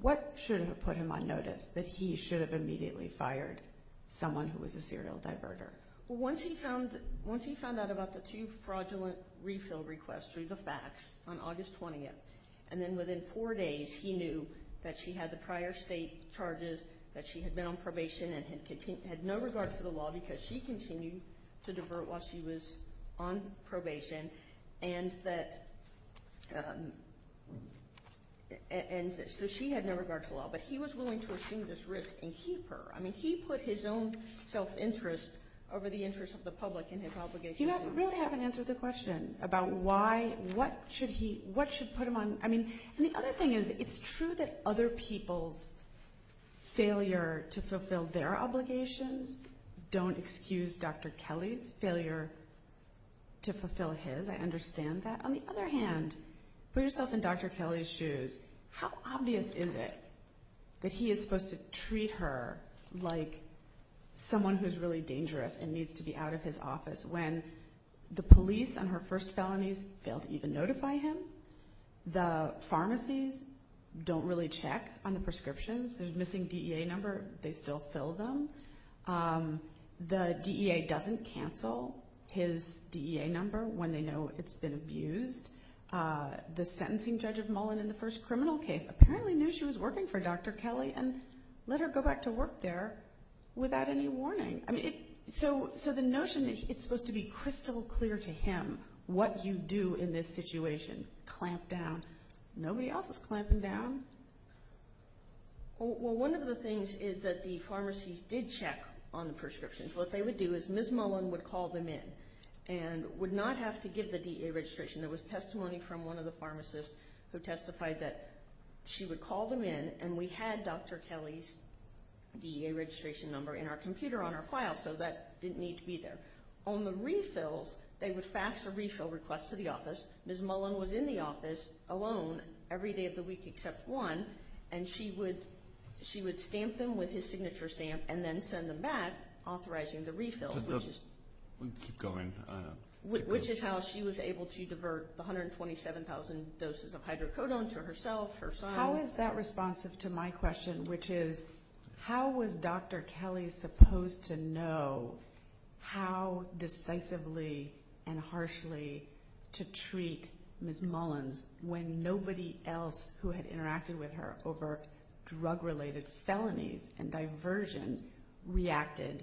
What should have put him on notice, that he should have immediately fired someone who was a serial diverter? Well, once he found out about the Chief Fraudulent Refill Request through the facts on August 20th, and then within four days he knew that she had the prior state charges, that she had been on probation and had no regard for the law because she continued to divert while she was on probation, and so she had no regard for the law. But he was willing to assume this risk and keep her. I mean, he put his own self-interest over the interest of the public in his obligation. You really haven't answered the question about what should put him on – I mean, the other thing is, it's true that other people's failure to fulfill their obligations don't excuse Dr. Kelly's failure to fulfill his. I understand that. On the other hand, put yourself in Dr. Kelly's shoes. How obvious is it that he is supposed to treat her like someone who is really dangerous and needs to be out of his office when the police on her first felony failed to even notify him? The pharmacies don't really check on the prescriptions. If there's a missing DEA number, they still fill them. The DEA doesn't cancel his DEA number when they know it's been abused. The sentencing judge of Mullen in the first criminal case apparently knew she was working for Dr. Kelly and let her go back to work there without any warning. So the notion that it's supposed to be crystal clear to him what you do in this situation, clamp down. Nobody else is clamping down. Well, one of the things is that the pharmacies did check on the prescriptions. What they would do is Ms. Mullen would call them in and would not have to give the DEA registration. There was testimony from one of the pharmacists who testified that she would call them in and we had Dr. Kelly's DEA registration number in our computer on our file, so that didn't need to be there. On the refills, they would fax a refill request to the office. Ms. Mullen was in the office alone every day of the week except once, and she would stamp them with his signature stamp and then send them back authorizing the refill, which is how she was able to divert 127,000 doses of hydrocodone to herself, her son. How is that responsive to my question, which is, how was Dr. Kelly supposed to know how decisively and harshly to treat Ms. Mullen when nobody else who had interacted with her over drug-related felonies and diversion reacted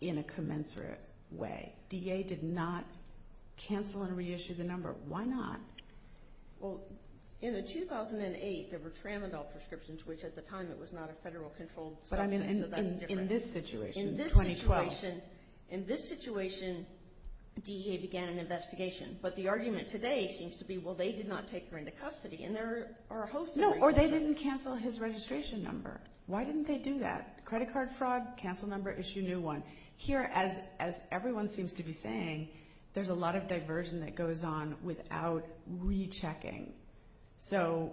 in a commensurate way? DEA did not cancel and reissue the number. Why not? In 2008, there were Tramadol prescriptions, which at the time was not a federal controlled drug. In this situation, 2012. In this situation, DEA began an investigation, but the argument today seems to be, well, they did not take her into custody. Or they didn't cancel his registration number. Why didn't they do that? Credit card fraud, cancel number, issue new one. Here, as everyone seems to be saying, there's a lot of diversion that goes on without rechecking. So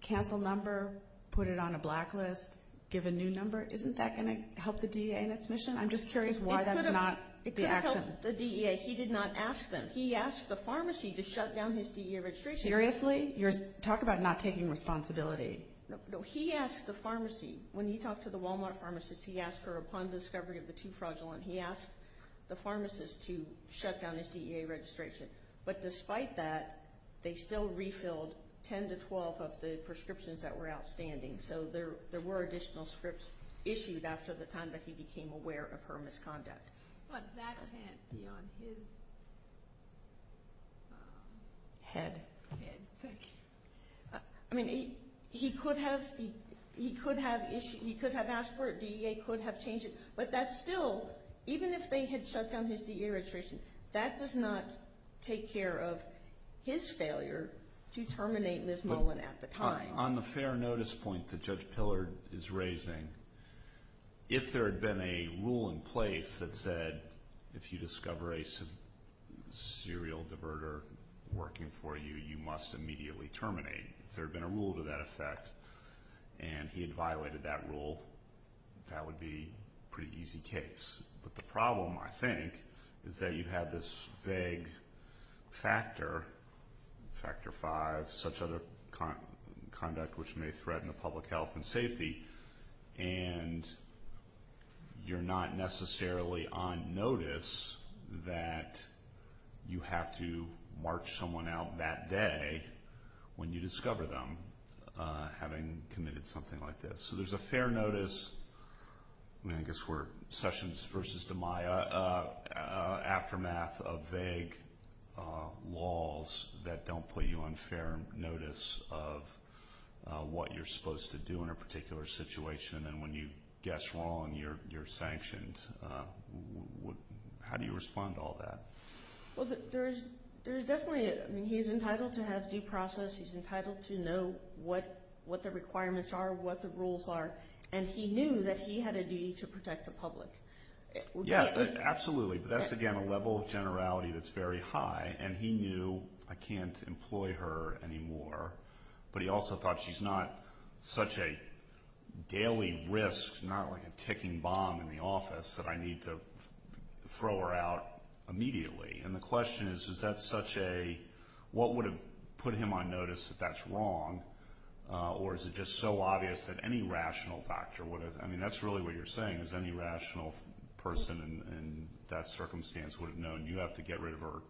cancel number, put it on a blacklist, give a new number. Isn't that going to help the DEA in its mission? I'm just curious why that's not the action. It could have helped the DEA. He did not ask them. He asked the pharmacy to shut down his DEA registration. Seriously? Talk about not taking responsibility. No, he asked the pharmacy. When you talk to the Walmart pharmacist, he asked her, upon the discovery of the 2-fragile, and he asked the pharmacist to shut down his DEA registration. But despite that, they still refilled 10 to 12 of the prescriptions that were outstanding. So there were additional scripts issued after the time that he became aware of her misconduct. But that can't be on his head. I mean, he could have asked for it. DEA could have changed it. But that still, even if they had shut down his DEA registration, that does not take care of his failure to terminate Liz Nolan at the time. On the fair notice point that Judge Pillard is raising, if there had been a rule in place that said if you discover a serial diverter working for you, you must immediately terminate, if there had been a rule to that effect, and he had violated that rule, that would be a pretty easy case. But the problem, I think, is that you have this vague factor, factor five, such conduct which may threaten the public health and safety, and you're not necessarily on notice that you have to march someone out that day when you discover them, having committed something like this. So there's a fair notice, I guess we're Sessions versus DiMaio, aftermath of vague laws that don't put you on fair notice of what you're supposed to do in a particular situation, and then when you guess wrong, you're sanctioned. How do you respond to all that? Well, there's definitely, I mean, he's entitled to have due process. He's entitled to know what the requirements are, what the rules are, and he knew that he had a duty to protect the public. Yes, absolutely. That's, again, a level of generality that's very high, and he knew I can't employ her anymore, but he also thought she's not such a daily risk, not like a ticking bomb in the office, that I need to throw her out immediately. And the question is, is that such a, what would have put him on notice that that's wrong, or is it just so obvious that any rational doctor would have, I mean, that's really what you're saying, is any rational person in that circumstance would have known you have to get rid of her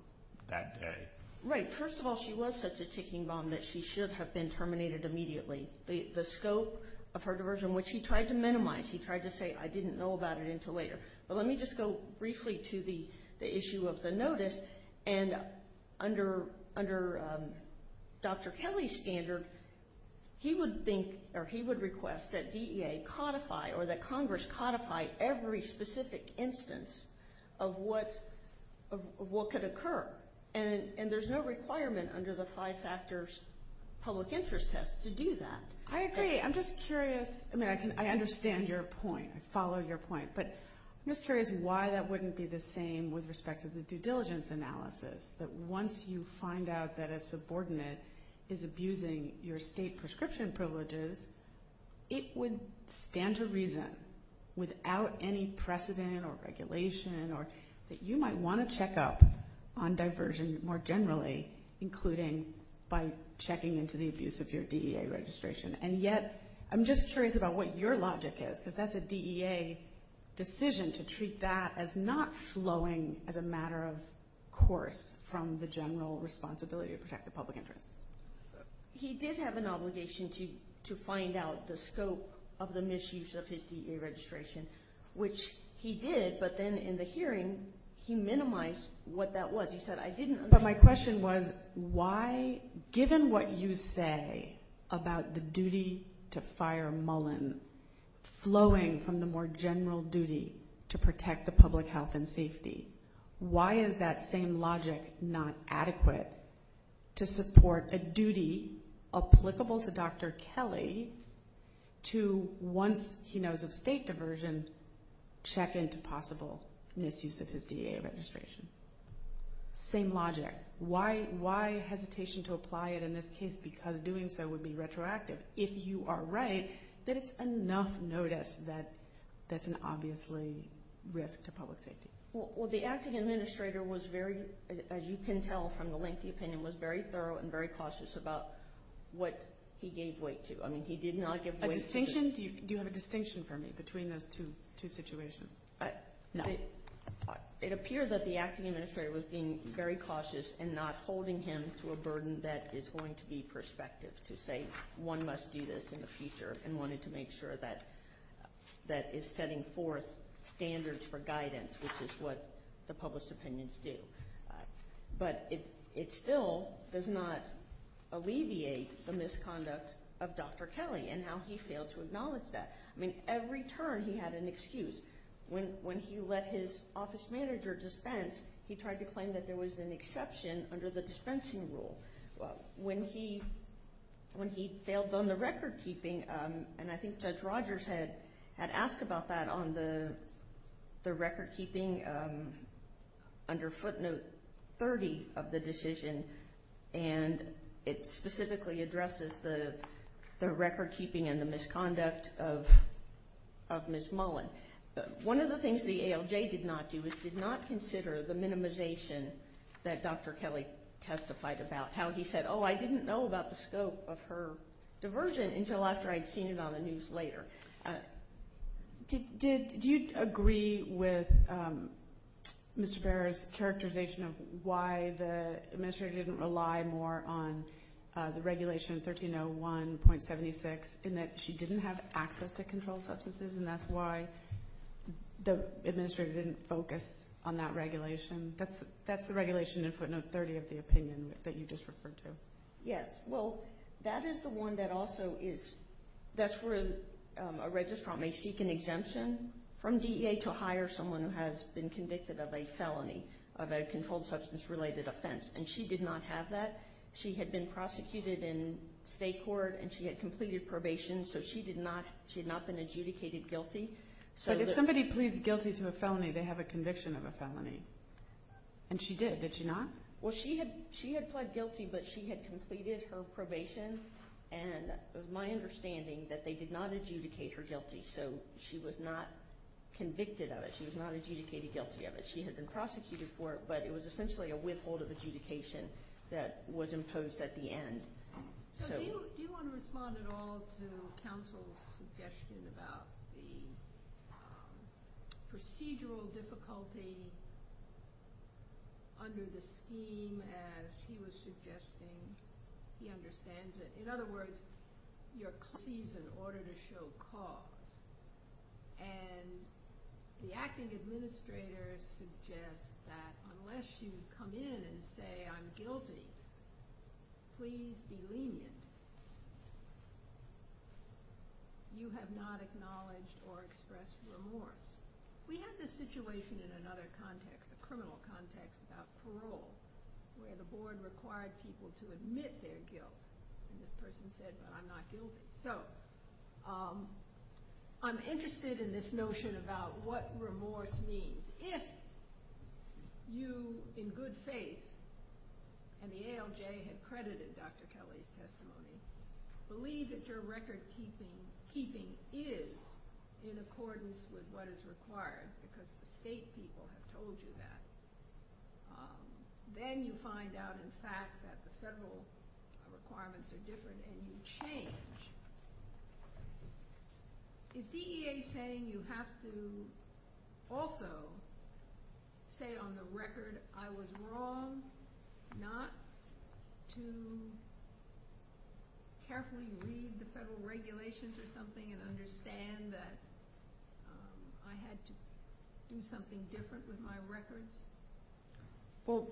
that day. Right. First of all, she was such a ticking bomb that she should have been terminated immediately. The scope of her diversion, which he tried to minimize, he tried to say, I didn't know about it until later. But let me just go briefly to the issue of the notice, and under Dr. Kelly's standard, he would think or he would request that DEA codify or that Congress codify every specific instance of what could occur, and there's no requirement under the five factors public interest test to do that. I agree. I'm just curious. I mean, I understand your point. I followed your point. But I'm just curious why that wouldn't be the same with respect to the due diligence analysis, that once you find out that a subordinate is abusing your state prescription privileges, it would stand to reason, without any precedent or regulation, that you might want to check up on diversion more generally, including by checking into the abuse of your DEA registration. And yet, I'm just curious about what your logic is, if that's a DEA decision to treat that as not flowing as a matter of course from the general responsibility to protect the public interest. He did have an obligation to find out the scope of the misuse of his DEA registration, which he did. But then in the hearing, he minimized what that was. He said, I didn't know. But my question was, given what you say about the duty to fire Mullen flowing from the more general duty to protect the public health and safety, why is that same logic not adequate to support a duty applicable to Dr. Kelly to, once he knows of state diversion, check into possible misuse of his DEA registration? Same logic. Why hesitation to apply it in this case, because doing so would be retroactive? If you are right, then it's enough notice that that's an obviously risk to public safety. Well, the acting administrator was very, as you can tell from the lengthy opinion, was very thorough and very cautious about what he gave weight to. I mean, he did not give weight to the… A distinction? Do you have a distinction for me between those two situations? No. It appears that the acting administrator was being very cautious and not holding him to a burden that is going to be prospective to say, one must do this in the future and wanted to make sure that that is setting forth standards for guidance, which is what the public's opinions do. But it still does not alleviate the misconduct of Dr. Kelly and how he failed to acknowledge that. I mean, every turn he had an excuse. When he let his office manager dispense, he tried to claim that there was an exception under the dispensing rule. When he failed on the recordkeeping, and I think Judge Rogers had asked about that on the recordkeeping under footnote 30 of the decision, and it specifically addresses the recordkeeping and the misconduct of Ms. Mullen. One of the things the ALJ did not do is did not consider the minimization that Dr. Kelly testified about, how he said, oh, I didn't know about the scope of her diversion until after I'd seen it on the news later. Did you agree with Mr. Barrett's characterization of why the administrator didn't rely more on the regulation of 1301.76 in that she didn't have access to controlled substances, and that's why the administrator didn't focus on that regulation? That's the regulation in footnote 30 of the opinion that you just referred to. Yes, well, that is the one that also is – that's where a registrant may seek an exemption from DEA to hire someone who has been convicted of a felony, of a controlled substance-related offense, and she did not have that. She had been prosecuted in state court, and she had completed probation, so she did not – she had not been adjudicated guilty. But if somebody pleads guilty to a felony, they have a conviction of a felony, and she did, did she not? Well, she had pled guilty, but she had completed her probation, and it was my understanding that they did not adjudicate her guilty, so she was not convicted of it. She was not adjudicated guilty of it. She had been prosecuted for it, but it was essentially a withhold of adjudication that was imposed at the end. Do you want to respond at all to counsel's suggestion about the procedural difficulty under the scheme, as he was suggesting? He understands that, in other words, you're excused in order to show cause, and the acting administrator suggests that unless you come in and say, I'm guilty, please be lenient. You have not acknowledged or expressed remorse. We have this situation in another context, a criminal context, about parole, where the board required people to admit their guilt, and this person said, but I'm not guilty. So, I'm interested in this notion about what remorse means. If you, in good faith, and the ALJ had credited Dr. Kelly's testimony, believe that your record keeping is in accordance with what is required, because the state people have told you that, then you find out, in fact, that the federal requirements are different, and you change. Is DEA saying you have to also say on the record, I was wrong not to carefully read the federal regulations or something and understand that I had to do something different with my record? Well,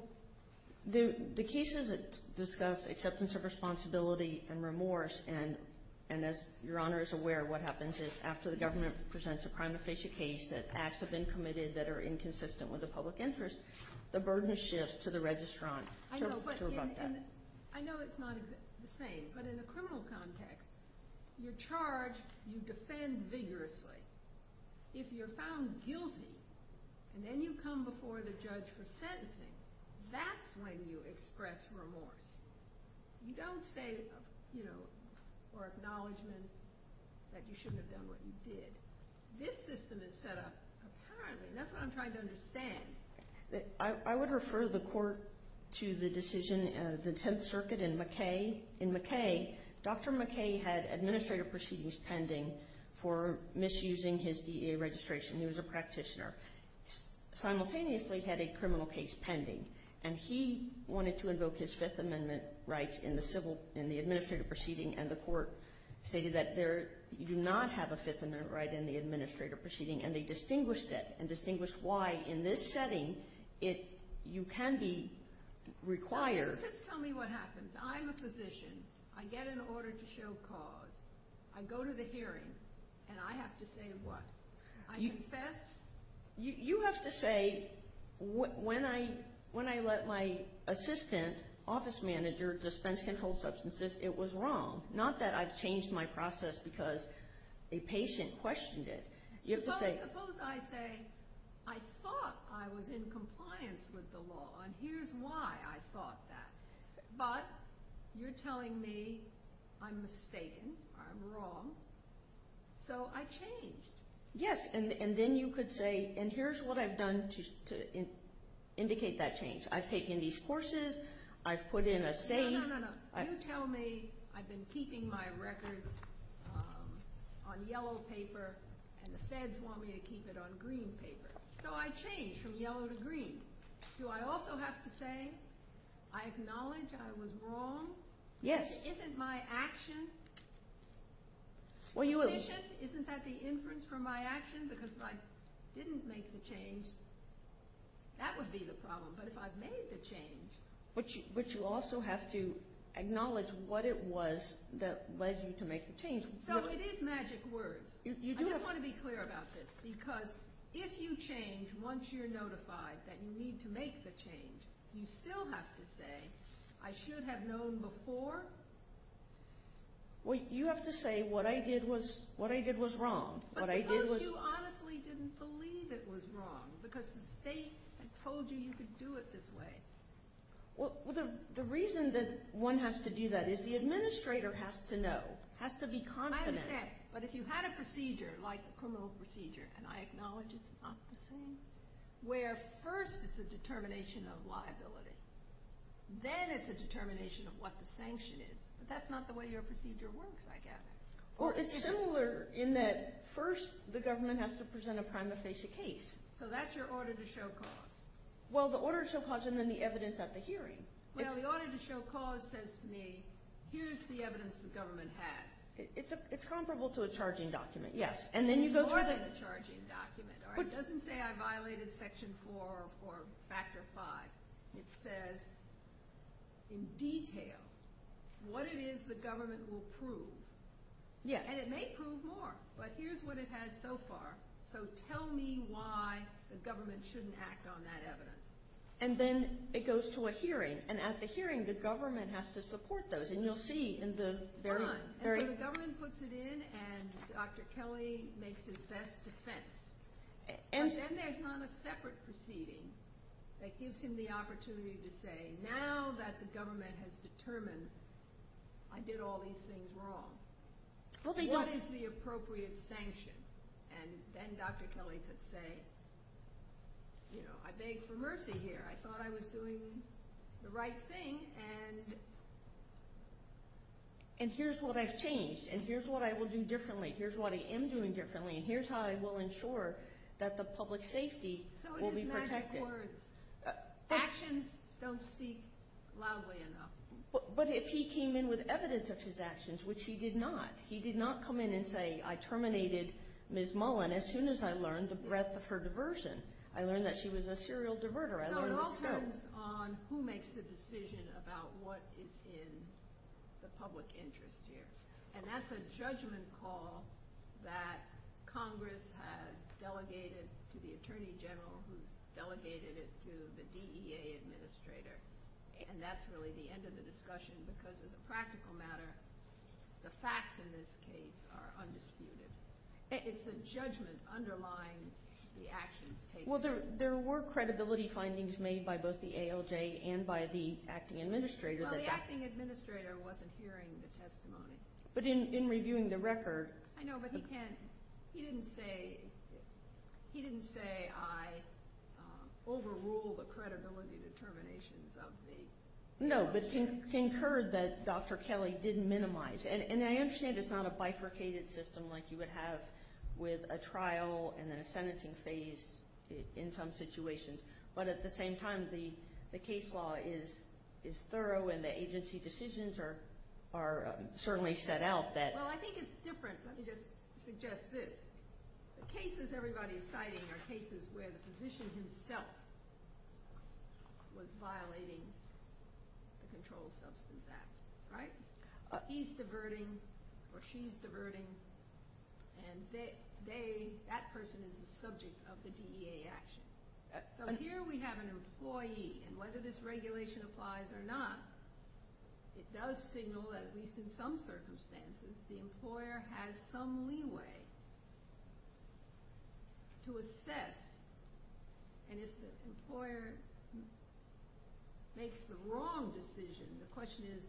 the cases that discuss acceptance of responsibility and remorse, and as Your Honor is aware, what happens is after the government presents a crime of facial cage that acts have been committed that are inconsistent with the public interest, the burden shifts to the registrant. I know it's not the same, but in a criminal context, you're charged, you defend vigorously. If you're found guilty, and then you come before the judge for sentencing, that's when you express remorse. You don't say, you know, or acknowledge that you shouldn't have done what you did. This system is set up appropriately, and that's what I'm trying to understand. I would refer the court to the decision of the Tenth Circuit in McKay. In McKay, Dr. McKay had administrative proceedings pending for misusing his DEA registration. He was a practitioner. Simultaneously, he had a criminal case pending, and he wanted to invoke his Fifth Amendment rights in the administrative proceeding, and the court stated that you do not have a Fifth Amendment right in the administrative proceeding, and they distinguished it and distinguished why, in this setting, you can be required. Just tell me what happens. I'm a physician. I get an order to show cause. I go to the hearing, and I have to say what? I confess? You have to say, when I let my assistant, office manager, dispense controlled substances, it was wrong. Not that I've changed my process because a patient questioned it. Suppose I say, I thought I was in compliance with the law, and here's why I thought that, but you're telling me I'm mistaken, I'm wrong, so I changed. Yes, and then you could say, and here's what I've done to indicate that change. I've taken these courses. I've put in a statement. No, no, no. You tell me I've been keeping my record on yellow paper, and the feds want me to keep it on green paper, so I changed from yellow to green. Do I also have to say I acknowledge I was wrong? Yes. If it's my action, isn't that the inference from my action? Because if I didn't make the change, that would be the problem, but if I've made the change— But you also have to acknowledge what it was that led you to make the change. So it is magic words. I just want to be clear about this, because if you change once you're notified that you need to make the change, you still have to say, I should have known before? Well, you have to say, what I did was wrong. But because you honestly didn't believe it was wrong, because the state told you you could do it this way. Well, the reason that one has to do that is the administrator has to know, has to be confident. I understand, but if you had a procedure, like a criminal procedure, and I acknowledge it's not the same, where first it's a determination of liability, then it's a determination of what the sanction is, but that's not the way your procedure works, I guess. Well, it's similar in that first the government has to present a prima facie case. So that's your order to show cause. Well, the order to show cause and then the evidence at the hearing. Well, the order to show cause says to me, here's the evidence the government has. It's comparable to a charging document, yes. It's more than a charging document. It doesn't say I violated Section 4 or Factor 5. It says in detail what it is the government will prove. Yes. And it may prove more, but here's what it has so far. So tell me why the government shouldn't act on that evidence. And then it goes to a hearing, and at the hearing the government has to support those. And you'll see in the very end. And the government puts it in, and Dr. Kelly makes his best defense. And then there's not a separate proceeding that gives him the opportunity to say, now that the government has determined I did all these things wrong, what is the appropriate sanction? And then Dr. Kelly could say, you know, I beg for mercy here. I thought I was doing the right thing, and here's what I've changed, and here's what I will do differently, here's what I am doing differently, and here's how I will ensure that the public safety will be protected. So it is nice for actions don't speak loudly enough. But if he came in with evidence of his actions, which he did not. He did not come in and say, I terminated Ms. Mullen as soon as I learned the breadth of her diversion. I learned that she was a serial diverter. No, welcome on who makes the decision about what is in the public interest here. And that's a judgment call that Congress has delegated to the Attorney General who's delegated it to the DEA administrator. And that's really the end of the discussion because as a practical matter, the facts in this case are undisputed. It's a judgment underlying the actions taken. Well, there were credibility findings made by both the ALJ and by the acting administrator. The acting administrator wasn't hearing the testimony. But in reviewing the record. No, but he didn't say, he didn't say I overruled the credibility determinations of the. No, but concurred that Dr. Kelly didn't minimize. And I understand it's not a bifurcated system like you would have with a trial and then a sentencing phase in some situations. But at the same time, the case law is thorough and the agency decisions are certainly set out that. Well, I think it's different. Let me just suggest this. The cases everybody is citing are cases where the physician himself was violating the control substance act. Right? He's diverting or she's diverting. And that person is the subject of the DEA action. So here we have an employee. And whether this regulation applies or not, it does signal, at least in some circumstances, the employer has some leeway to assess. And if the employer makes the wrong decision, the question is,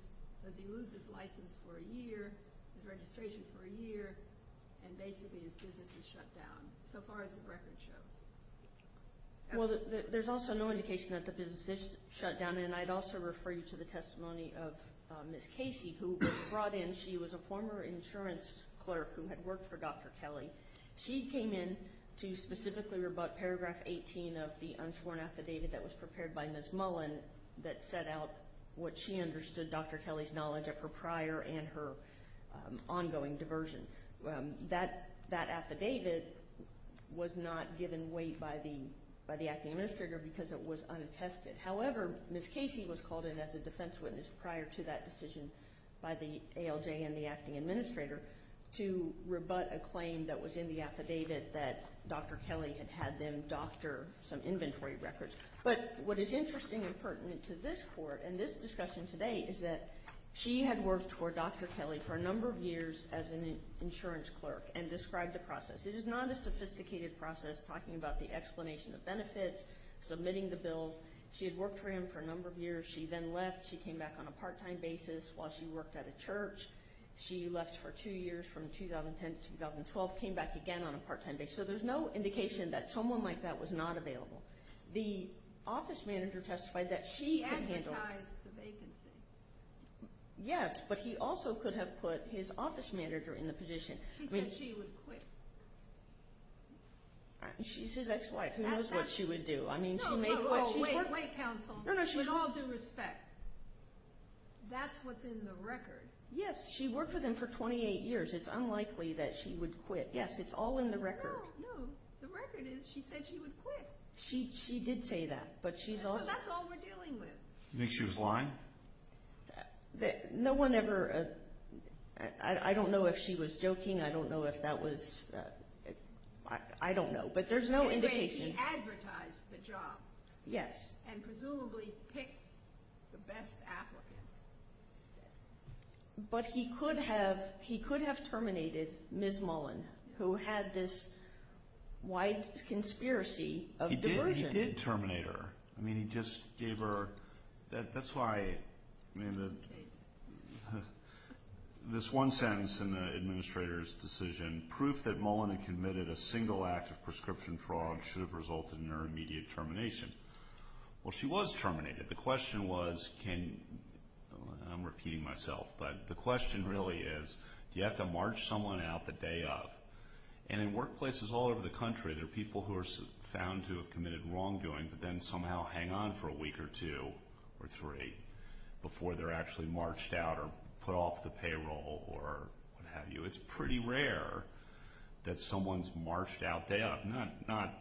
does he lose his license for a year, his registration for a year, and basically his business is shut down, so far as the records show. Well, there's also no indication that the business is shut down. And I'd also refer you to the testimony of Ms. Casey, who was brought in. She was a former insurance clerk who had worked for Dr. Kelly. She came in to specifically rebut paragraph 18 of the unsworn affidavit that was prepared by Ms. Mullen that set out what she understood Dr. Kelly's knowledge of her prior and her ongoing diversion. That affidavit was not given weight by the acting administrator because it was unattested. However, Ms. Casey was called in as a defense witness prior to that decision by the ALJ and the acting administrator to rebut a claim that was in the affidavit that Dr. Kelly had had them doctor some inventory records. But what is interesting and pertinent to this court and this discussion today is that she had worked for Dr. Kelly for a number of years as an insurance clerk and described the process. It is not a sophisticated process talking about the explanation of benefits, submitting the bill. She had worked for him for a number of years. She then left. She came back on a part-time basis while she worked at a church. She left for two years from 2010 to 2012, came back again on a part-time basis. So there's no indication that someone like that was not available. The office manager testified that she could handle it. She advertised the vacancy. Yes, but he also could have put his office manager in the position. She said she would quit. She's his ex-wife. Who knows what she would do? I mean, she made what she made. No, no, no. Wait. Wait, counsel. No, no. With all due respect, that's what's in the record. Yes, she worked with him for 28 years. It's unlikely that she would quit. Yes, it's all in the record. No, no. The record is she said she would quit. She did say that. But that's all we're dealing with. You think she was lying? No one ever – I don't know if she was joking. I don't know if that was – I don't know. But there's no indication. In a way, she advertised the job. Yes. And presumably picked the best applicant. But he could have terminated Ms. Mullen, who had this wife conspiracy of delusion. He did terminate her. I mean, he just gave her – that's why – I mean, this one sentence in the administrator's decision, proof that Mullen had committed a single act of prescription fraud should have resulted in her immediate termination. Well, she was terminated. The question was can – I'm repeating myself, but the question really is do you have to march someone out the day of? And in workplaces all over the country, there are people who are found to have committed wrongdoing but then somehow hang on for a week or two or three before they're actually marched out or put off the payroll or what have you. It's pretty rare that someone's marched out the day of. Not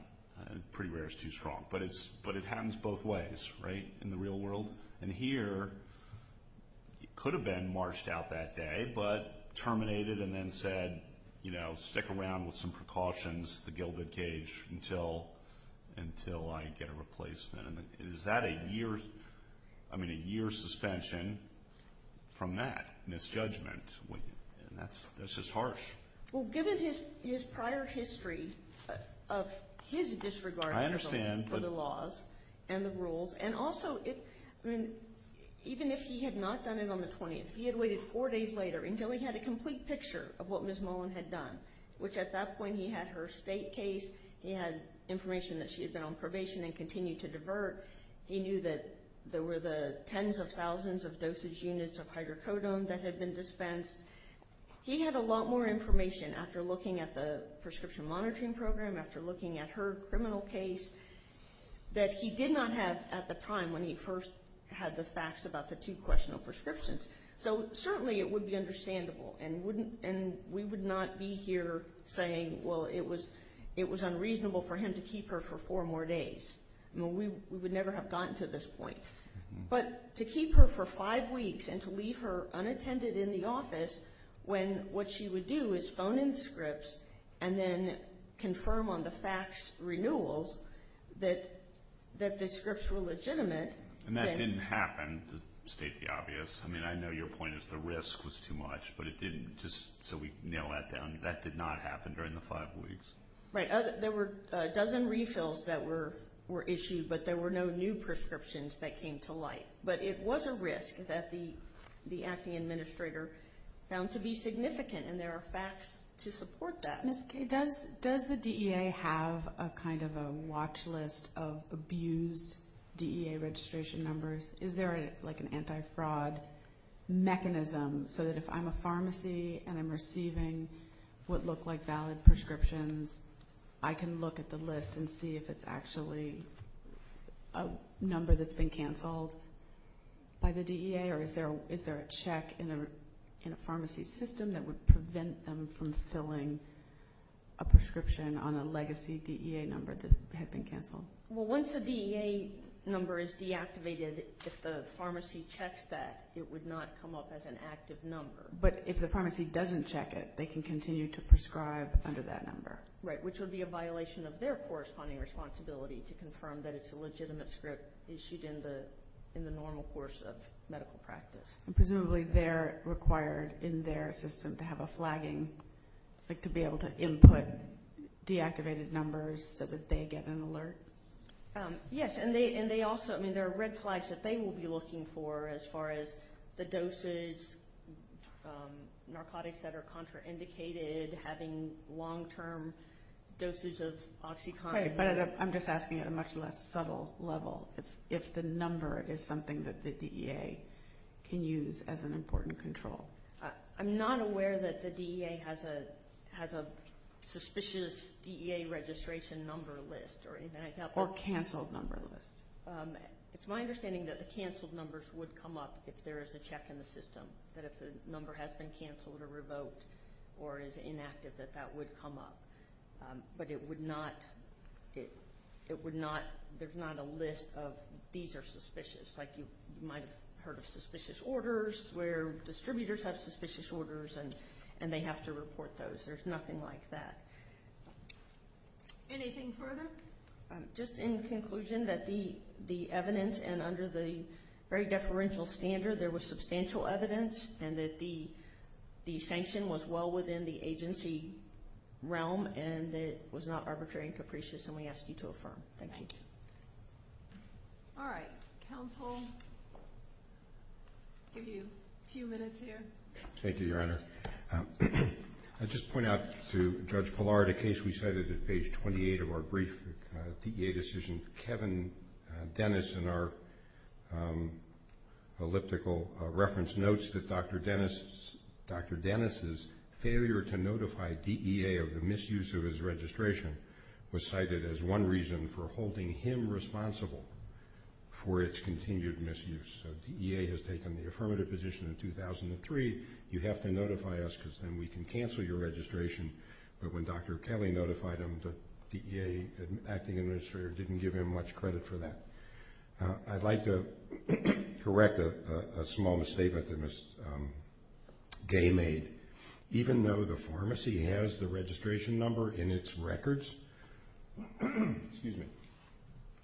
pretty rare is too strong, but it happens both ways, right? In the real world and here, it could have been marched out that day but terminated and then said, you know, stick around with some precautions at the Gilded Cage until I get a replacement. Is that a year's – I mean, a year's suspension from that misjudgment? That's just harsh. Well, given his prior history of his disregard for the laws and the rules – I understand. And also, even if he had not done it on the 20th, he had waited four days later until he had a complete picture of what Ms. Mullen had done, which at that point he had her state case. He had information that she had been on probation and continued to divert. He knew that there were the tens of thousands of doses units of hydrocodone that had been dispensed. He had a lot more information after looking at the prescription monitoring program, after looking at her criminal case, that he did not have at the time when he first had the facts about the two questionable prescriptions. So certainly it would be understandable, and we would not be here saying, well, it was unreasonable for him to keep her for four more days. We would never have gotten to this point. But to keep her for five weeks and to leave her unattended in the office when what she would do is phone in Scripps and then confirm on the facts renewals that the Scripps were legitimate. And that didn't happen, to state the obvious. I mean, I know your point is the risk was too much, but it didn't. Just so we nail that down, that did not happen during the five weeks. Right. There were a dozen refills that were issued, but there were no new prescriptions that came to light. But it was a risk that the acting administrator found to be significant, and there are facts to support that. Ms. Kaye, does the DEA have a kind of a watch list of abused DEA registration numbers? Is there like an anti-fraud mechanism so that if I'm a pharmacy and I'm receiving what look like valid prescriptions, I can look at the list and see if it's actually a number that's been canceled by the DEA? Or is there a check in a pharmacy system that would prevent them from filling a prescription on a legacy DEA number that has been canceled? Well, once a DEA number is deactivated, if the pharmacy checks that, it would not come up as an active number. But if the pharmacy doesn't check it, they can continue to prescribe under that number. Right, which would be a violation of their corresponding responsibility to confirm that it's a legitimate script issued in the normal course of medical practice. Presumably they're required in their system to have a flagging, like to be able to input deactivated numbers so that they get an alert? Yes, and they also, I mean, there are red flags that they will be looking for as far as the doses, narcotics that are contraindicated, having long-term doses of OxyContin. I'm just asking at a much less subtle level. If the number is something that the DEA can use as an important control. I'm not aware that the DEA has a suspicious DEA registration number list or anything like that. Or canceled number list. It's my understanding that the canceled numbers would come up if there is a check in the system, that if the number has been canceled or revoked or is inactive, that that would come up. But it would not, it would not, there's not a list of these are suspicious. Like you might have heard of suspicious orders where distributors have suspicious orders and they have to report those. There's nothing like that. Anything further? Just in conclusion, that the evidence and under the very deferential standard, there was substantial evidence and that the sanction was well within the agency realm and that it was not arbitrary and capricious and we ask you to affirm. Thank you. All right. Counsel, give you a few minutes here. Thank you, Your Honor. I just point out to Judge Pillar, the case we cited at page 28 of our brief DEA decision, Kevin Dennis in our elliptical reference notes that Dr. Dennis's failure to notify DEA of the misuse of his registration was cited as one reason for holding him responsible for its continued misuse. So DEA has taken the affirmative position in 2003. You have to notify us because then we can cancel your registration. But when Dr. Kelly notified him, the DEA at the administrator didn't give him much credit for that. I'd like to correct a small mistake that was game-made. Even though the pharmacy has the registration number in its records,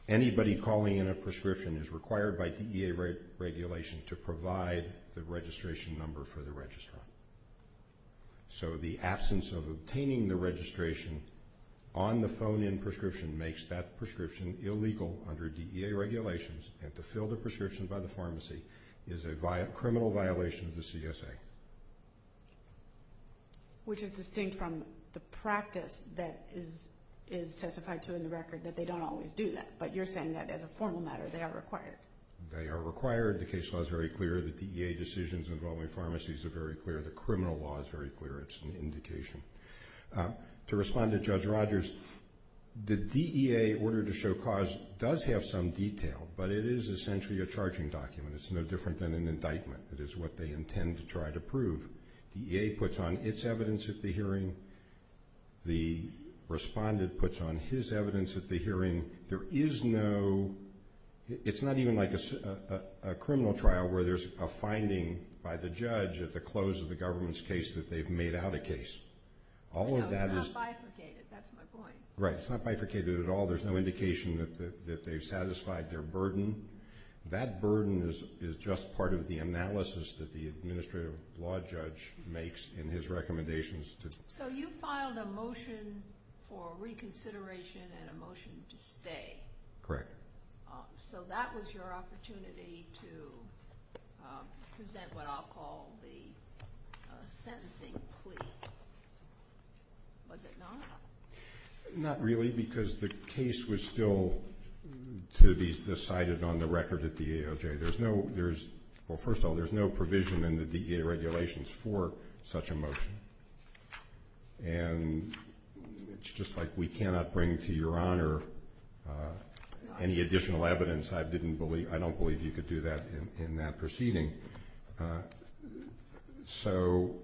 anybody calling in a prescription is required by DEA regulations to provide the registration number for the registrar. So the absence of obtaining the registration on the phone-in prescription makes that prescription illegal under DEA regulations and to fill the prescription by the pharmacy is a criminal violation of the CSA. Which is distinct from the practice that is testified to in the record that they don't always do that, but you're saying that as a formal matter they are required. They are required. The case law is very clear. The DEA decisions involving pharmacies are very clear. The criminal law is very clear. It's an indication. To respond to Judge Rogers, the DEA Order to Show Cause does have some detail, but it is essentially a charging document. It's no different than an indictment. It is what they intend to try to prove. DEA puts on its evidence at the hearing. The respondent puts on his evidence at the hearing. It's not even like a criminal trial where there's a finding by the judge at the close of the government's case that they've made out a case. No, it's not bifurcated. That's my point. Right. It's not bifurcated at all. There's no indication that they've satisfied their burden. That burden is just part of the analysis that the administrative law judge makes in his recommendations. So you filed a motion for reconsideration and a motion to stay. Correct. So that was your opportunity to present what I'll call the sentencing plea. Was it not? Not really because the case was still to be decided on the record at the AOJ. Well, first of all, there's no provision in the DEA regulations for such a motion. And it's just like we cannot bring to your honor any additional evidence. I don't believe you could do that in that proceeding. So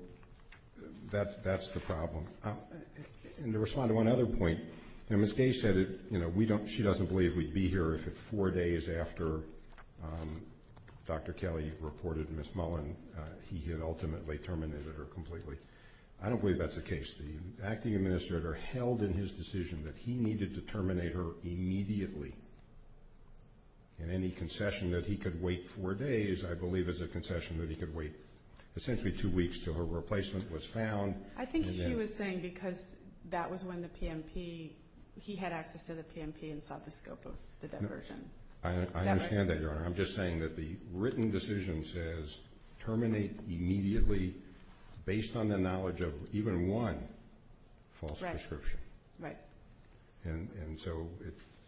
that's the problem. And to respond to one other point, and Ms. Day said she doesn't believe we'd be here if it's four days after Dr. Kelly reported Ms. Mullen. He had ultimately terminated her completely. I don't believe that's the case. The acting administrator held in his decision that he needed to terminate her immediately. And any concession that he could wait four days, I believe, is a concession that he could wait essentially two weeks until her replacement was found. I think she was saying because that was when the PMP, he had access to the PMP and saw the scope of the diversion. I understand that, Your Honor. I'm just saying that the written decision says terminate immediately based on the knowledge of even one false description. Right. And so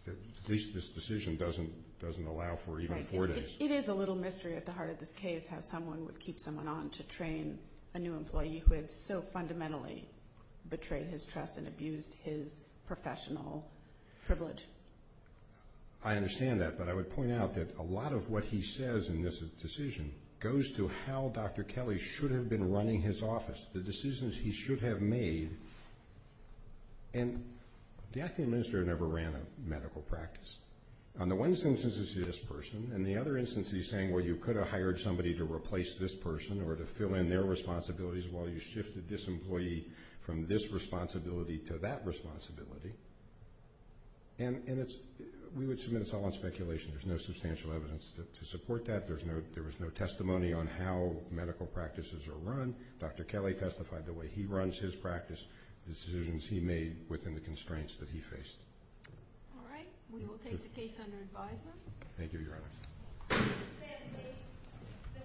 at least this decision doesn't allow for even four days. It is a little mystery at the heart of this case how someone would keep someone on to train a new employee who has so fundamentally betrayed his trust and abused his professional privilege. I understand that, but I would point out that a lot of what he says in this decision goes to how Dr. Kelly should have been running his office, the decisions he should have made. And the acting administrator never ran a medical practice. On the one instance, it's this person. And the other instance, he's saying, well, you could have hired somebody to replace this person or to fill in their responsibilities while you shifted this employee from this responsibility to that responsibility. And we would submit it's all in speculation. There's no substantial evidence to support that. There was no testimony on how medical practices are run. Dr. Kelly testified the way he runs his practice, decisions he made within the constraints that he faced. All right. We will take your case under advisement. Thank you, Your Honor.